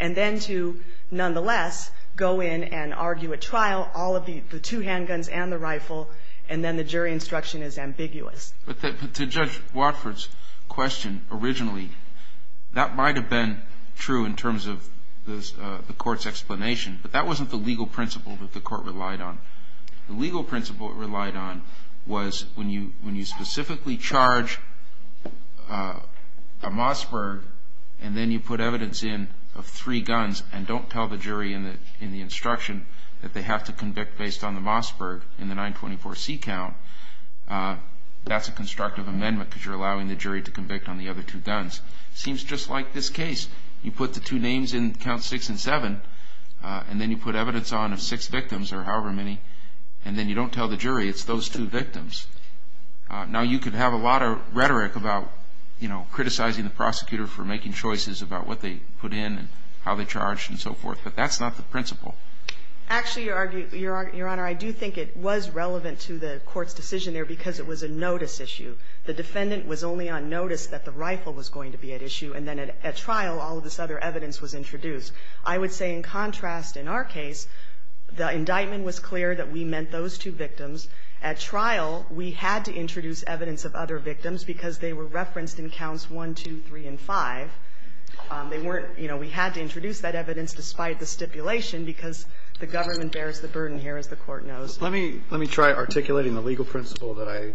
and then to, nonetheless, go in and argue at trial all of the two handguns and the rifle, and then the jury instruction is ambiguous. But to Judge Watford's question originally, that might have been true in terms of the Court's explanation, but that wasn't the legal principle that the Court relied on. The legal principle it relied on was when you specifically charge a Mossberg and then you put evidence in of three guns and don't tell the jury in the instruction that they have to convict based on the Mossberg in the 924C count, that's a constructive amendment because you're allowing the jury to convict on the other two guns. It seems just like this case. You put the two names in Counts 6 and 7, and then you put evidence on of six victims or however many, and then you don't tell the jury it's those two victims. Now, you could have a lot of rhetoric about, you know, criticizing the prosecutor for making choices about what they put in and how they charged and so forth, but that's not the principle. Actually, Your Honor, I do think it was relevant to the Court's decision there because it was a notice issue. The defendant was only on notice that the rifle was going to be at issue, and then at trial all of this other evidence was introduced. I would say in contrast in our case, the indictment was clear that we meant those two victims. At trial, we had to introduce evidence of other victims because they were referenced in Counts 1, 2, 3, and 5. They weren't, you know, we had to introduce that evidence despite the stipulation because the government bears the burden here, as the Court knows. Let me try articulating the legal principle that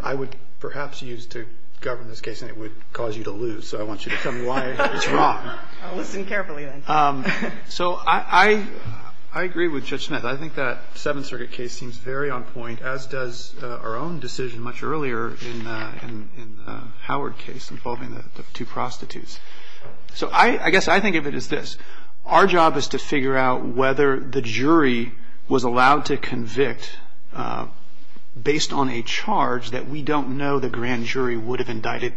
I would perhaps use to govern this case, and it would cause you to lose, so I want you to tell me why it's wrong. Listen carefully, then. So I agree with Judge Smith. I think that Seventh Circuit case seems very on point, as does our own decision much earlier in Howard's case involving the two prostitutes. So I guess I think of it as this. Our job is to figure out whether the jury was allowed to convict based on a charge that we don't know the grand jury would have indicted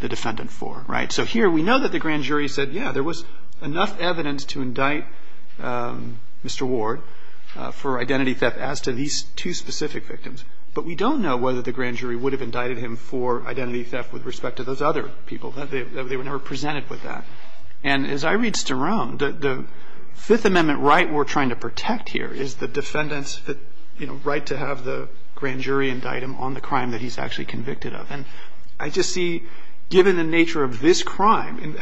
the defendant for, right? So here, we know that the grand jury said, yeah, there was enough evidence to indict Mr. Ward for identity theft as to these two specific victims, but we don't know whether the grand jury would have indicted him for identity theft with respect to those other people. They were never presented with that. And as I read Sterome, the Fifth Amendment right we're trying to protect here is the defendant's, you know, right to have the grand jury indict him on the crime that he's actually convicted of. And I just see, given the nature of this crime,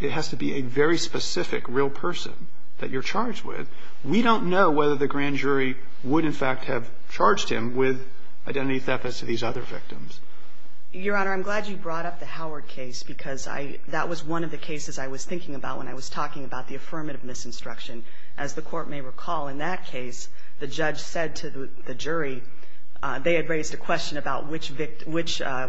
it has to be a very specific real person that you're charged with. We don't know whether the grand jury would, in fact, have charged him with identity theft as to these other victims. Your Honor, I'm glad you brought up the Howard case because that was one of the cases I was thinking about when I was talking about the affirmative misinstruction. As the court may recall, in that case, the judge said to the jury, they had raised the question about which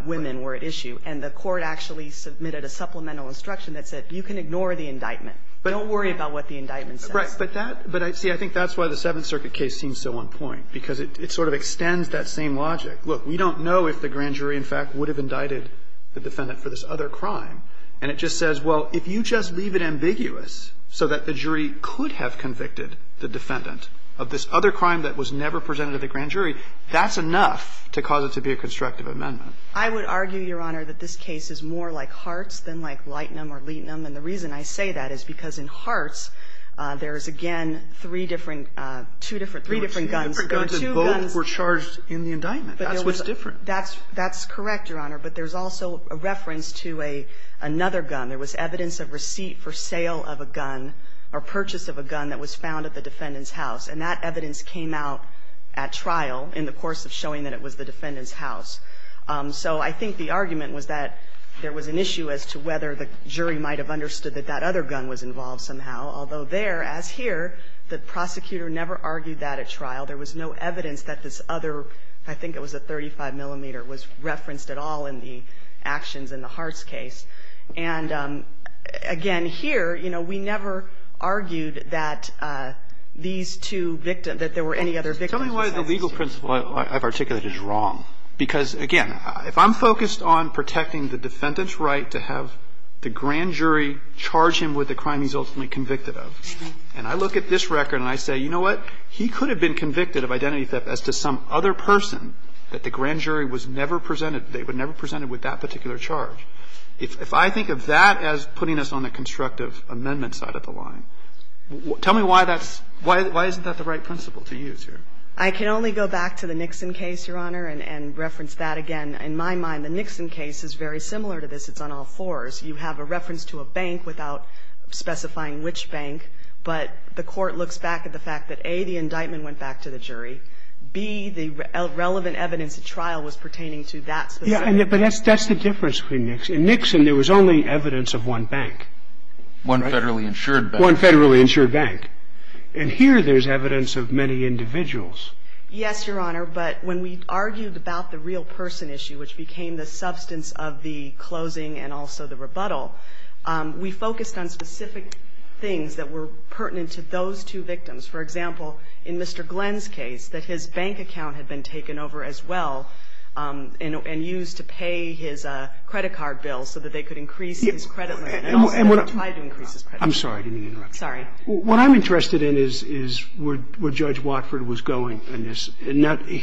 women were at issue, and the court actually submitted a supplemental instruction that said, you can ignore the indictment, but don't worry about what the indictment says. Right, but see, I think that's why the Seventh Circuit case seems so on point because it sort of extends that same logic. Look, we don't know if the grand jury, in fact, would have indicted the defendant for this other crime. And it just says, well, if you just leave it ambiguous so that the jury could have convicted the defendant of this other crime that was never presented to the grand jury, that's enough to cause it to be a constructive amendment. I would argue, Your Honor, that this case is more like Hart's than like Leighton or Leighton. And the reason I say that is because in Hart's, there is, again, three different guns. Two different guns, and both were charged in the indictment. That's what's different. That's correct, Your Honor, but there's also a reference to another gun. There was evidence of receipt for sale of a gun or purchase of a gun that was found at the defendant's house, and that evidence came out at trial in the course of showing that it was the defendant's house. So I think the argument was that there was an issue as to whether the jury might have understood that that other gun was involved somehow, although there, as here, the prosecutor never argued that at trial. There was no evidence that this other, I think it was a 35 millimeter, was referenced at all in the actions in the Hart's case. And, again, here, you know, we never argued that these two victims, that there were any other victims. Tell me why the legal principle I've articulated is wrong, because, again, if I'm focused on protecting the defendant's right to have the grand jury charge him with the crime he's ultimately convicted of, and I look at this record and I say, you know what, he could have been convicted of identity theft as to some other person that the grand jury was never presented, they were never presented with that particular charge. If I think of that as putting us on the constructive amendment side of the line, tell me why that's, why isn't that the right principle to use here? I can only go back to the Nixon case, Your Honor, and reference that again. In my mind, the Nixon case is very similar to this. It's on all fours. You have a reference to a bank without specifying which bank, but the court looks back at the fact that, A, the indictment went back to the jury. B, the relevant evidence at trial was pertaining to that. But that's the difference between Nixon. In Nixon, there was only evidence of one bank. One federally insured bank. One federally insured bank. And here there's evidence of many individuals. Yes, Your Honor, but when we argued about the real person issue, which became the substance of the closing and also the rebuttal, we focused on specific things that were pertinent to those two victims. For example, in Mr. Glenn's case, that his bank account had been taken over as well and used to pay his credit card bill so that they could increase his credit rate. I'm sorry, I didn't mean to interrupt you. Sorry. What I'm interested in is where Judge Watford was going in this.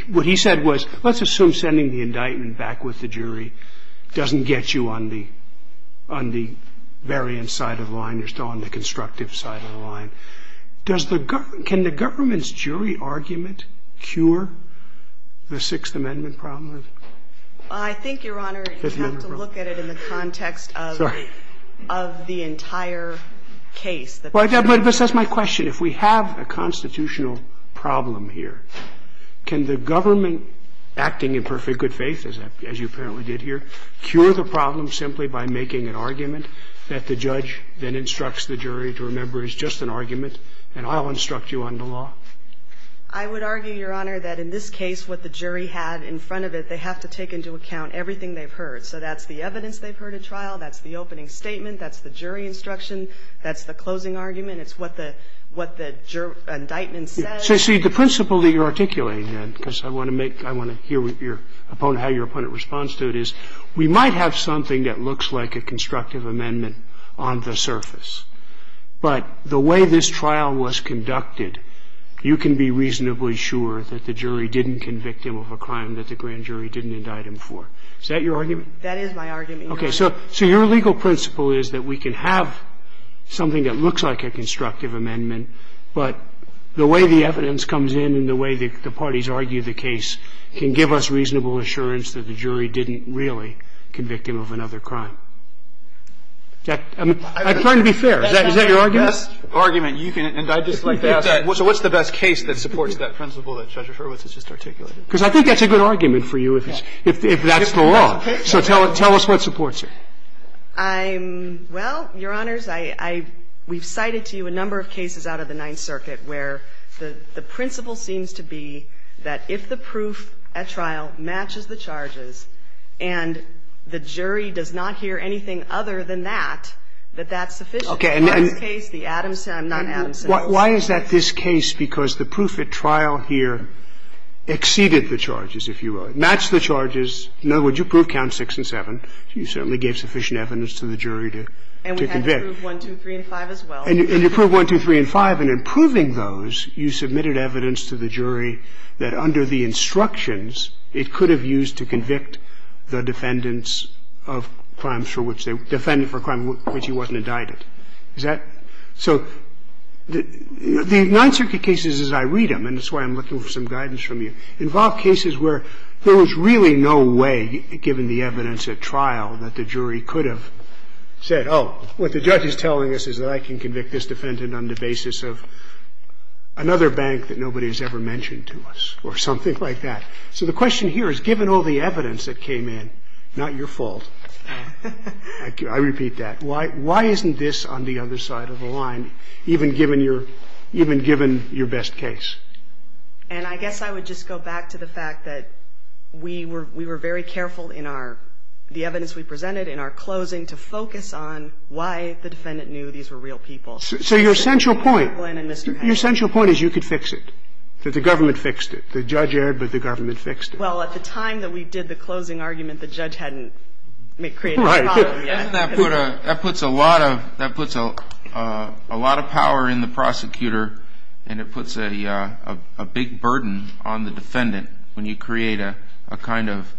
What he said was, let's assume sending the indictment back with the jury doesn't get you on the variant side of the line. You're still on the constructive side of the line. Can the government's jury argument cure the Sixth Amendment problem? I think, Your Honor, you have to look at it in the context of the entire case. But that's my question. If we have a constitutional problem here, can the government acting in perfect good faith, as you apparently did here, cure the problem simply by making an argument that the judge then instructs the jury to remember is just an argument and I'll instruct you on the law? I would argue, Your Honor, that in this case what the jury had in front of it, they have to take into account everything they've heard. So that's the evidence they've heard at trial, that's the opening statement, that's the jury instruction, that's the closing argument, it's what the indictment says. So, see, the principle that you're articulating, because I want to hear how your opponent responds to it, is we might have something that looks like a constructive amendment on the surface. But the way this trial was conducted, you can be reasonably sure that the jury didn't convict him of a crime that the grand jury didn't indict him for. Is that your argument? That is my argument. Okay, so your legal principle is that we can have something that looks like a constructive amendment, but the way the evidence comes in and the way the parties argue the case can give us reasonable assurance that the jury didn't really convict him of another crime. I'm trying to be fair. Is that your argument? That's the argument. And I'd just like to ask, what's the best case that supports that principle that Judge Erwitz has just articulated? Because I think that's a good argument for you, if that's the law. Okay. So tell us what supports it. Well, Your Honors, we've cited to you a number of cases out of the Ninth Circuit where the principle seems to be that if the proof at trial matches the charges and the jury does not hear anything other than that, that that's sufficient. Okay. Why is that this case? Because the proof at trial here exceeded the charges, if you will. Match the charges. In other words, you proved Counts 6 and 7, so you certainly gave sufficient evidence to the jury to convict. And we had to prove 1, 2, 3, and 5 as well. And you proved 1, 2, 3, and 5, and in proving those, you submitted evidence to the jury that under the instructions, it could have used to convict the defendant for a crime for which he wasn't indicted. Is that so? The Ninth Circuit cases, as I read them, and this is why I'm looking for some guidance from you, involve cases where there was really no way, given the evidence at trial, that the jury could have said, oh, what the judge is telling us is that I can convict this defendant on the basis of another bank that nobody has ever mentioned to us, or something like that. So the question here is, given all the evidence that came in, not your fault. I repeat that. Why isn't this on the other side of the line, even given your best case? And I guess I would just go back to the fact that we were very careful in the evidence we presented in our closing to focus on why the defendant knew these were real people. So your central point is you could fix it, that the government fixed it. The judge erred, but the government fixed it. Well, at the time that we did the closing argument, the judge hadn't created a problem yet. That puts a lot of power in the prosecutor, and it puts a big burden on the defendant when you create a kind of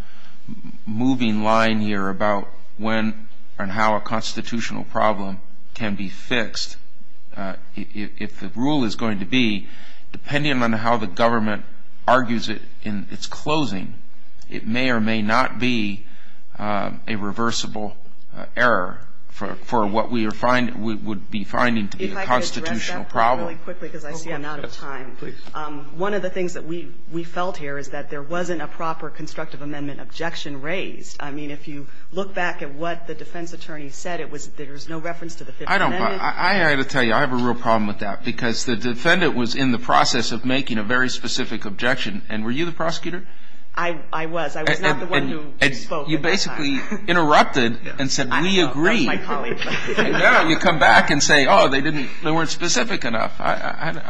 moving line here about when and how a constitutional problem can be fixed. If the rule is going to be, depending on how the government argues it in its closing, it may or may not be a reversible error for what we would be finding to be a constitutional problem. If I could address that really quickly, because I see I'm out of time. Please. One of the things that we felt here is that there wasn't a proper constructive amendment objection raised. I mean, if you look back at what the defense attorney said, there was no reference to the Fifth Amendment. I have to tell you, I have a real problem with that, because the defendant was in the process of making a very specific objection. And were you the prosecutor? I was. I was not the one who spoke at the time. And you basically interrupted and said, we agree. And now you come back and say, oh, they weren't specific enough. I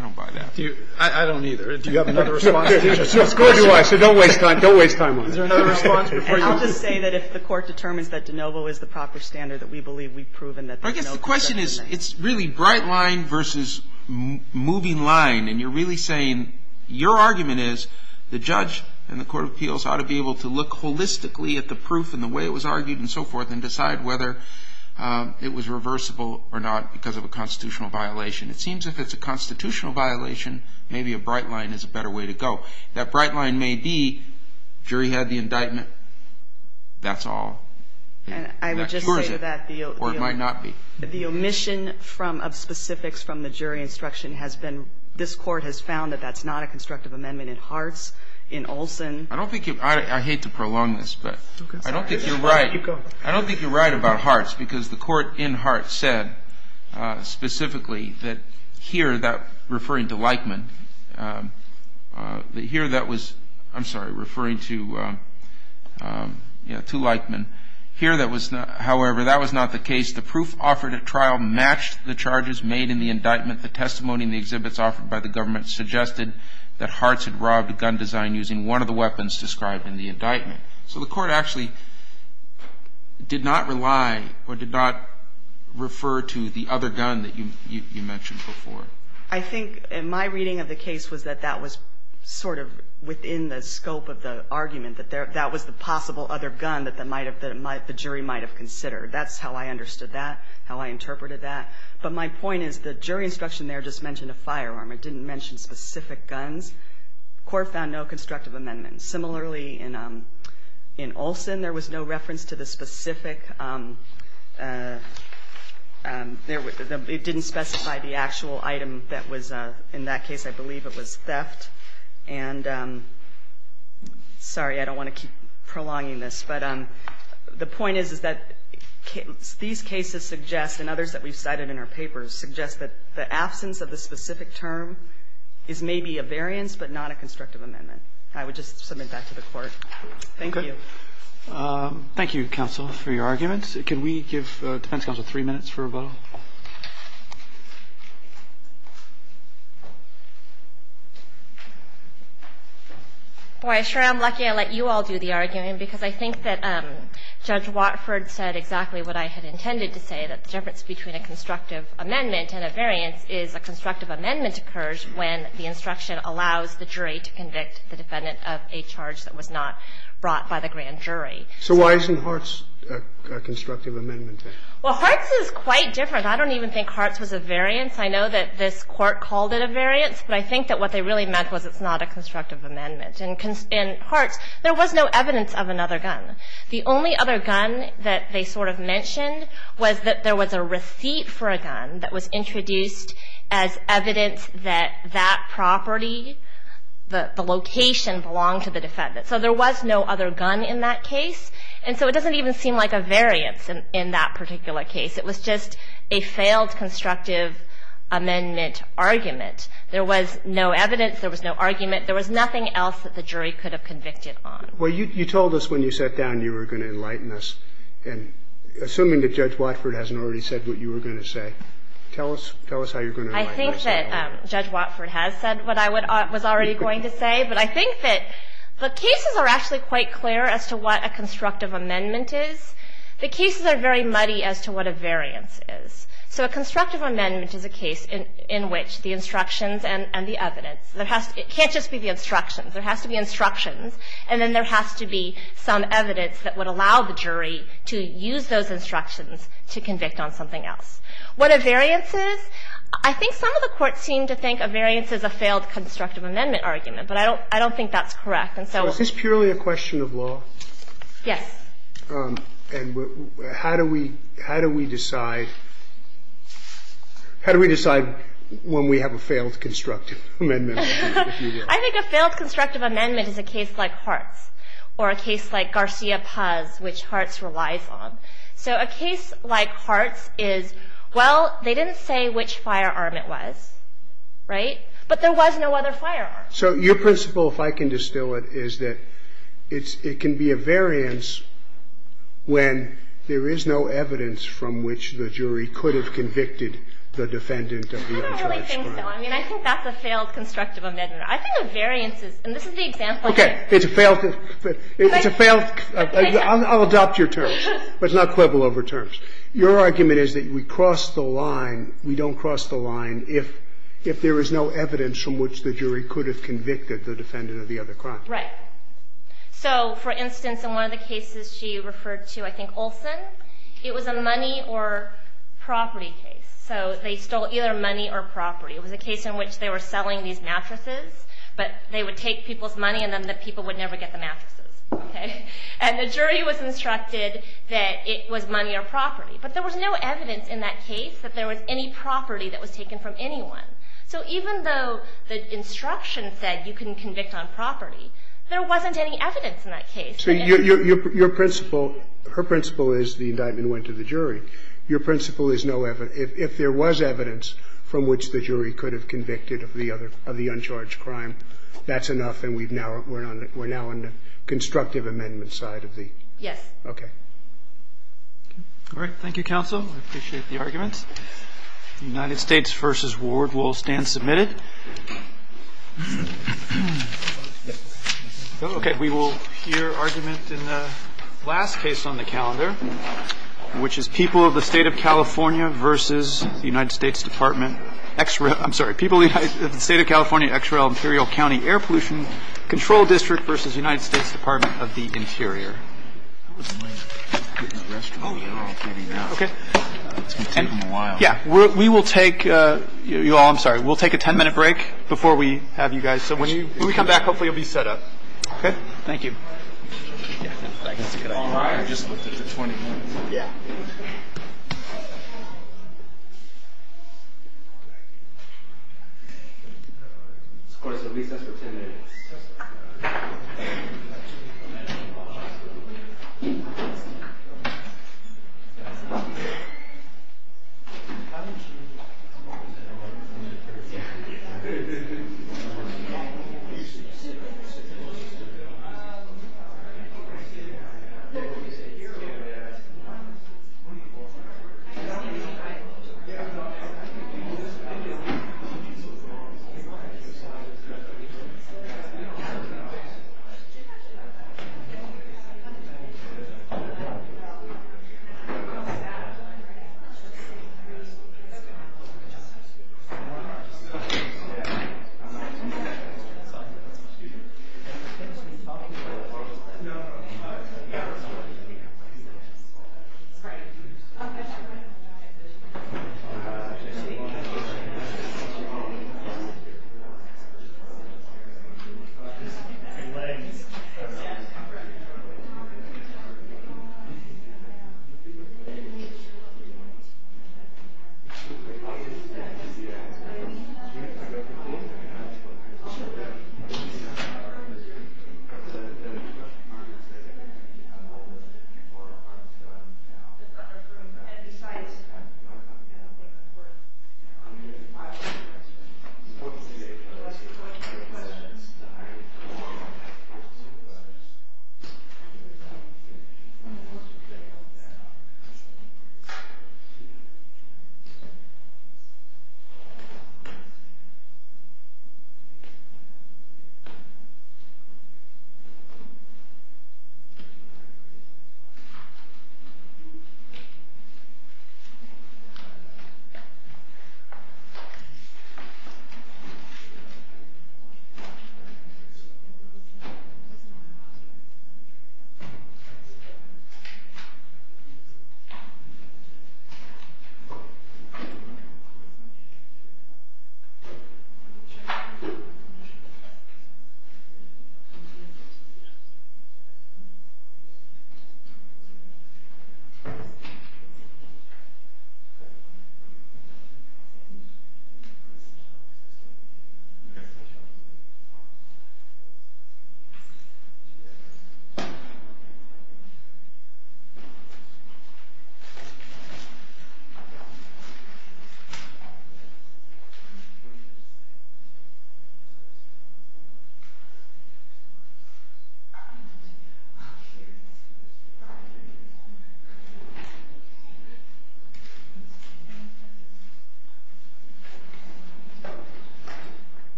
don't buy that. I don't either. Do you have another response? Go ahead. Go ahead. So don't waste time on it. Is there another response? I would say that if the court determines that de novo is the proper standard that we believe we've proven that de novo is the standard. I guess the question is, it's really bright line versus moving line. And you're really saying your argument is the judge and the court of appeals ought to be able to look holistically at the proof and the way it was argued and so forth and decide whether it was reversible or not because of a constitutional violation. It seems if it's a constitutional violation, maybe a bright line is a better way to go. That bright line may be jury had the indictment. That's all. And I would just say that the omission of specifics from the jury instruction has been, this court has found that that's not a constructive amendment in Hart's, in Olson. I hate to prolong this, but I don't think you're right. I don't think you're right about Hart's because the court in Hart's said specifically that here, referring to Leichman, here that was, I'm sorry, referring to Leichman. Here that was not, however, that was not the case. The proof offered at trial matched the charges made in the indictment. The testimony in the exhibits offered by the government suggested that Hart's had robbed the gun design using one of the weapons described in the indictment. So the court actually did not rely or did not refer to the other gun that you mentioned before. I think in my reading of the case was that that was sort of within the scope of the argument, that that was the possible other gun that the jury might have considered. That's how I understood that, how I interpreted that. But my point is the jury instruction there just mentioned a firearm. It didn't mention specific guns. The court found no constructive amendment. Similarly, in Olson, there was no reference to the specific. It didn't specify the actual item that was in that case. I believe it was theft. And sorry, I don't want to keep prolonging this. But the point is that these cases suggest, and others that we've cited in our papers, suggest that the absence of the specific term is maybe a variance but not a constructive amendment. I would just submit that to the court. Thank you. Thank you, counsel, for your argument. Can we give defense counsel three minutes for a vote? Well, I'm sure I'm lucky I let you all do the argument because I think that Judge Watford said exactly what I had intended to say, that the difference between a constructive amendment and a variance is a constructive amendment occurs when the instruction allows the jury to convict the defendant of a charge that was not brought by the grand jury. So why isn't Hart's a constructive amendment? Well, Hart's is quite different. I don't even think Hart's was a variance. I know that this court called it a variance. But I think that what they really meant was it's not a constructive amendment. And in Hart's, there was no evidence of another gun. The only other gun that they sort of mentioned was that there was a receipt for a gun that was introduced as evidence that that property, the location, belonged to the defendant. So there was no other gun in that case. And so it doesn't even seem like a variance in that particular case. It was just a failed constructive amendment argument. There was no evidence. There was no argument. There was nothing else that the jury could have convicted on. Well, you told us when you sat down you were going to enlighten us. And assuming that Judge Watford hasn't already said what you were going to say, tell us how you're going to enlighten us. I think that Judge Watford has said what I was already going to say. But I think that the cases are actually quite clear as to what a constructive amendment is. The cases are very muddy as to what a variance is. So a constructive amendment is a case in which the instructions and the evidence. It can't just be the instructions. It has to be instructions. And then there has to be some evidence that would allow the jury to use those instructions to convict on something else. What a variance is, I think some of the courts seem to think a variance is a failed constructive amendment argument. But I don't think that's correct. Is this purely a question of law? Yes. And how do we decide when we have a failed constructive amendment? I think a failed constructive amendment is a case like Hart's or a case like Garcia-Paz, which Hart's relies on. So a case like Hart's is, well, they didn't say which firearm it was, right? But there was no other firearm. So your principle, if I can distill it, is that it can be a variance when there is no evidence from which the jury could have convicted the defendant. I don't really think so. I mean, I think that's a failed constructive amendment. I think a variance is, and this is the example. Okay. It's a failed, I'll adopt your terms, but it's not quibble over terms. Your argument is that we cross the line, we don't cross the line if there is no evidence from which the jury could have convicted the defendant of the other crime. Right. So, for instance, in one of the cases she referred to, I think Olson, it was a money or property case. So they stole either money or property. It was a case in which they were selling these mattresses, but they would take people's money and then the people would never get the mattresses, okay? And the jury was instructed that it was money or property. But there was no evidence in that case that there was any property that was taken from anyone. So even though the instruction said you can convict on property, there wasn't any evidence in that case. So your principle, her principle is the indictment went to the jury. Your principle is if there was evidence from which the jury could have convicted of the uncharged crime, that's enough and we're now on the constructive amendment side of the. Yes. Okay. All right. Thank you, counsel. I appreciate the argument. United States v. Ward will stand submitted. Yes. Okay. We will hear argument in the last case on the calendar, which is people of the state of California versus the United States Department. Extra. I'm sorry. People in the state of California. XRL Imperial County Air Pollution Control District versus United States Department of the Interior. Oh, yeah. Yeah. We will take you all. I'm sorry. We'll take a ten minute break before we have you guys. So when you come back, hopefully you'll be set up. Thank you. All right. Yeah. All right. Thank you. Thank you. Thank you. Thank you.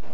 Thank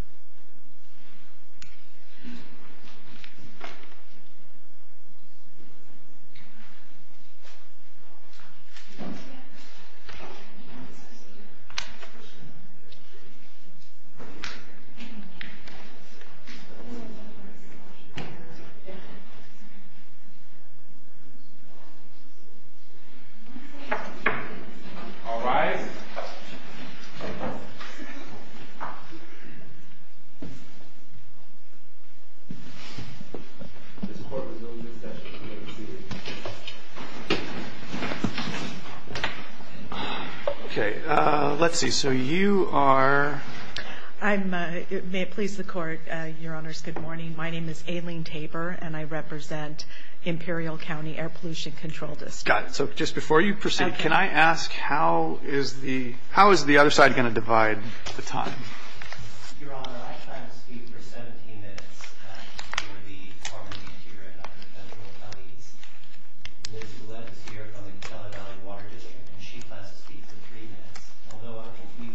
you. Thank you. Thank you. Thank you. Thank you. Thank you. Thank you. Thank you. Thank you. Thank you. Thank you. Thank you. Thank you. All right. Okay. Let's see. So you are... I'm... May it please the court, Your Honors, good morning. My name is Aileen Tabor and I represent Imperial County Air Pollution Control District. Got it. So just before you proceed, can I ask how is the... How is the other side going to divide the time? Your Honor, I tried to speak for 17 minutes for the Department of Interior. There's a woman here from the Colorado Water District and she'd like to speak to the treatment. Although, we...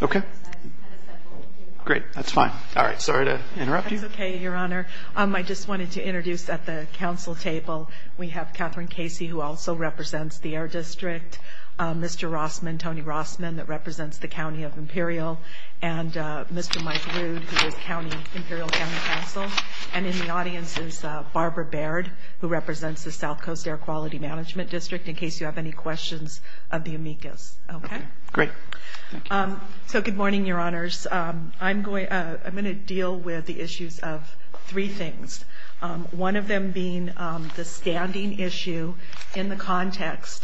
Okay. Great. That's fine. All right. Sorry to interrupt you. That's okay, Your Honor. I just wanted to introduce at the council table, we have Catherine Casey who also represents the Air District, Mr. Rossman, Tony Rossman that represents the County of Imperial, and Mr. Mike Rude who is county... Imperial County Council. And in the audience is Barbara Baird who represents the South Coast Air Quality Management District in case you have any questions of the amicus. Okay. Great. So good morning, Your Honors. I'm going to deal with the issues of three things, one of them being the standing issue in the context...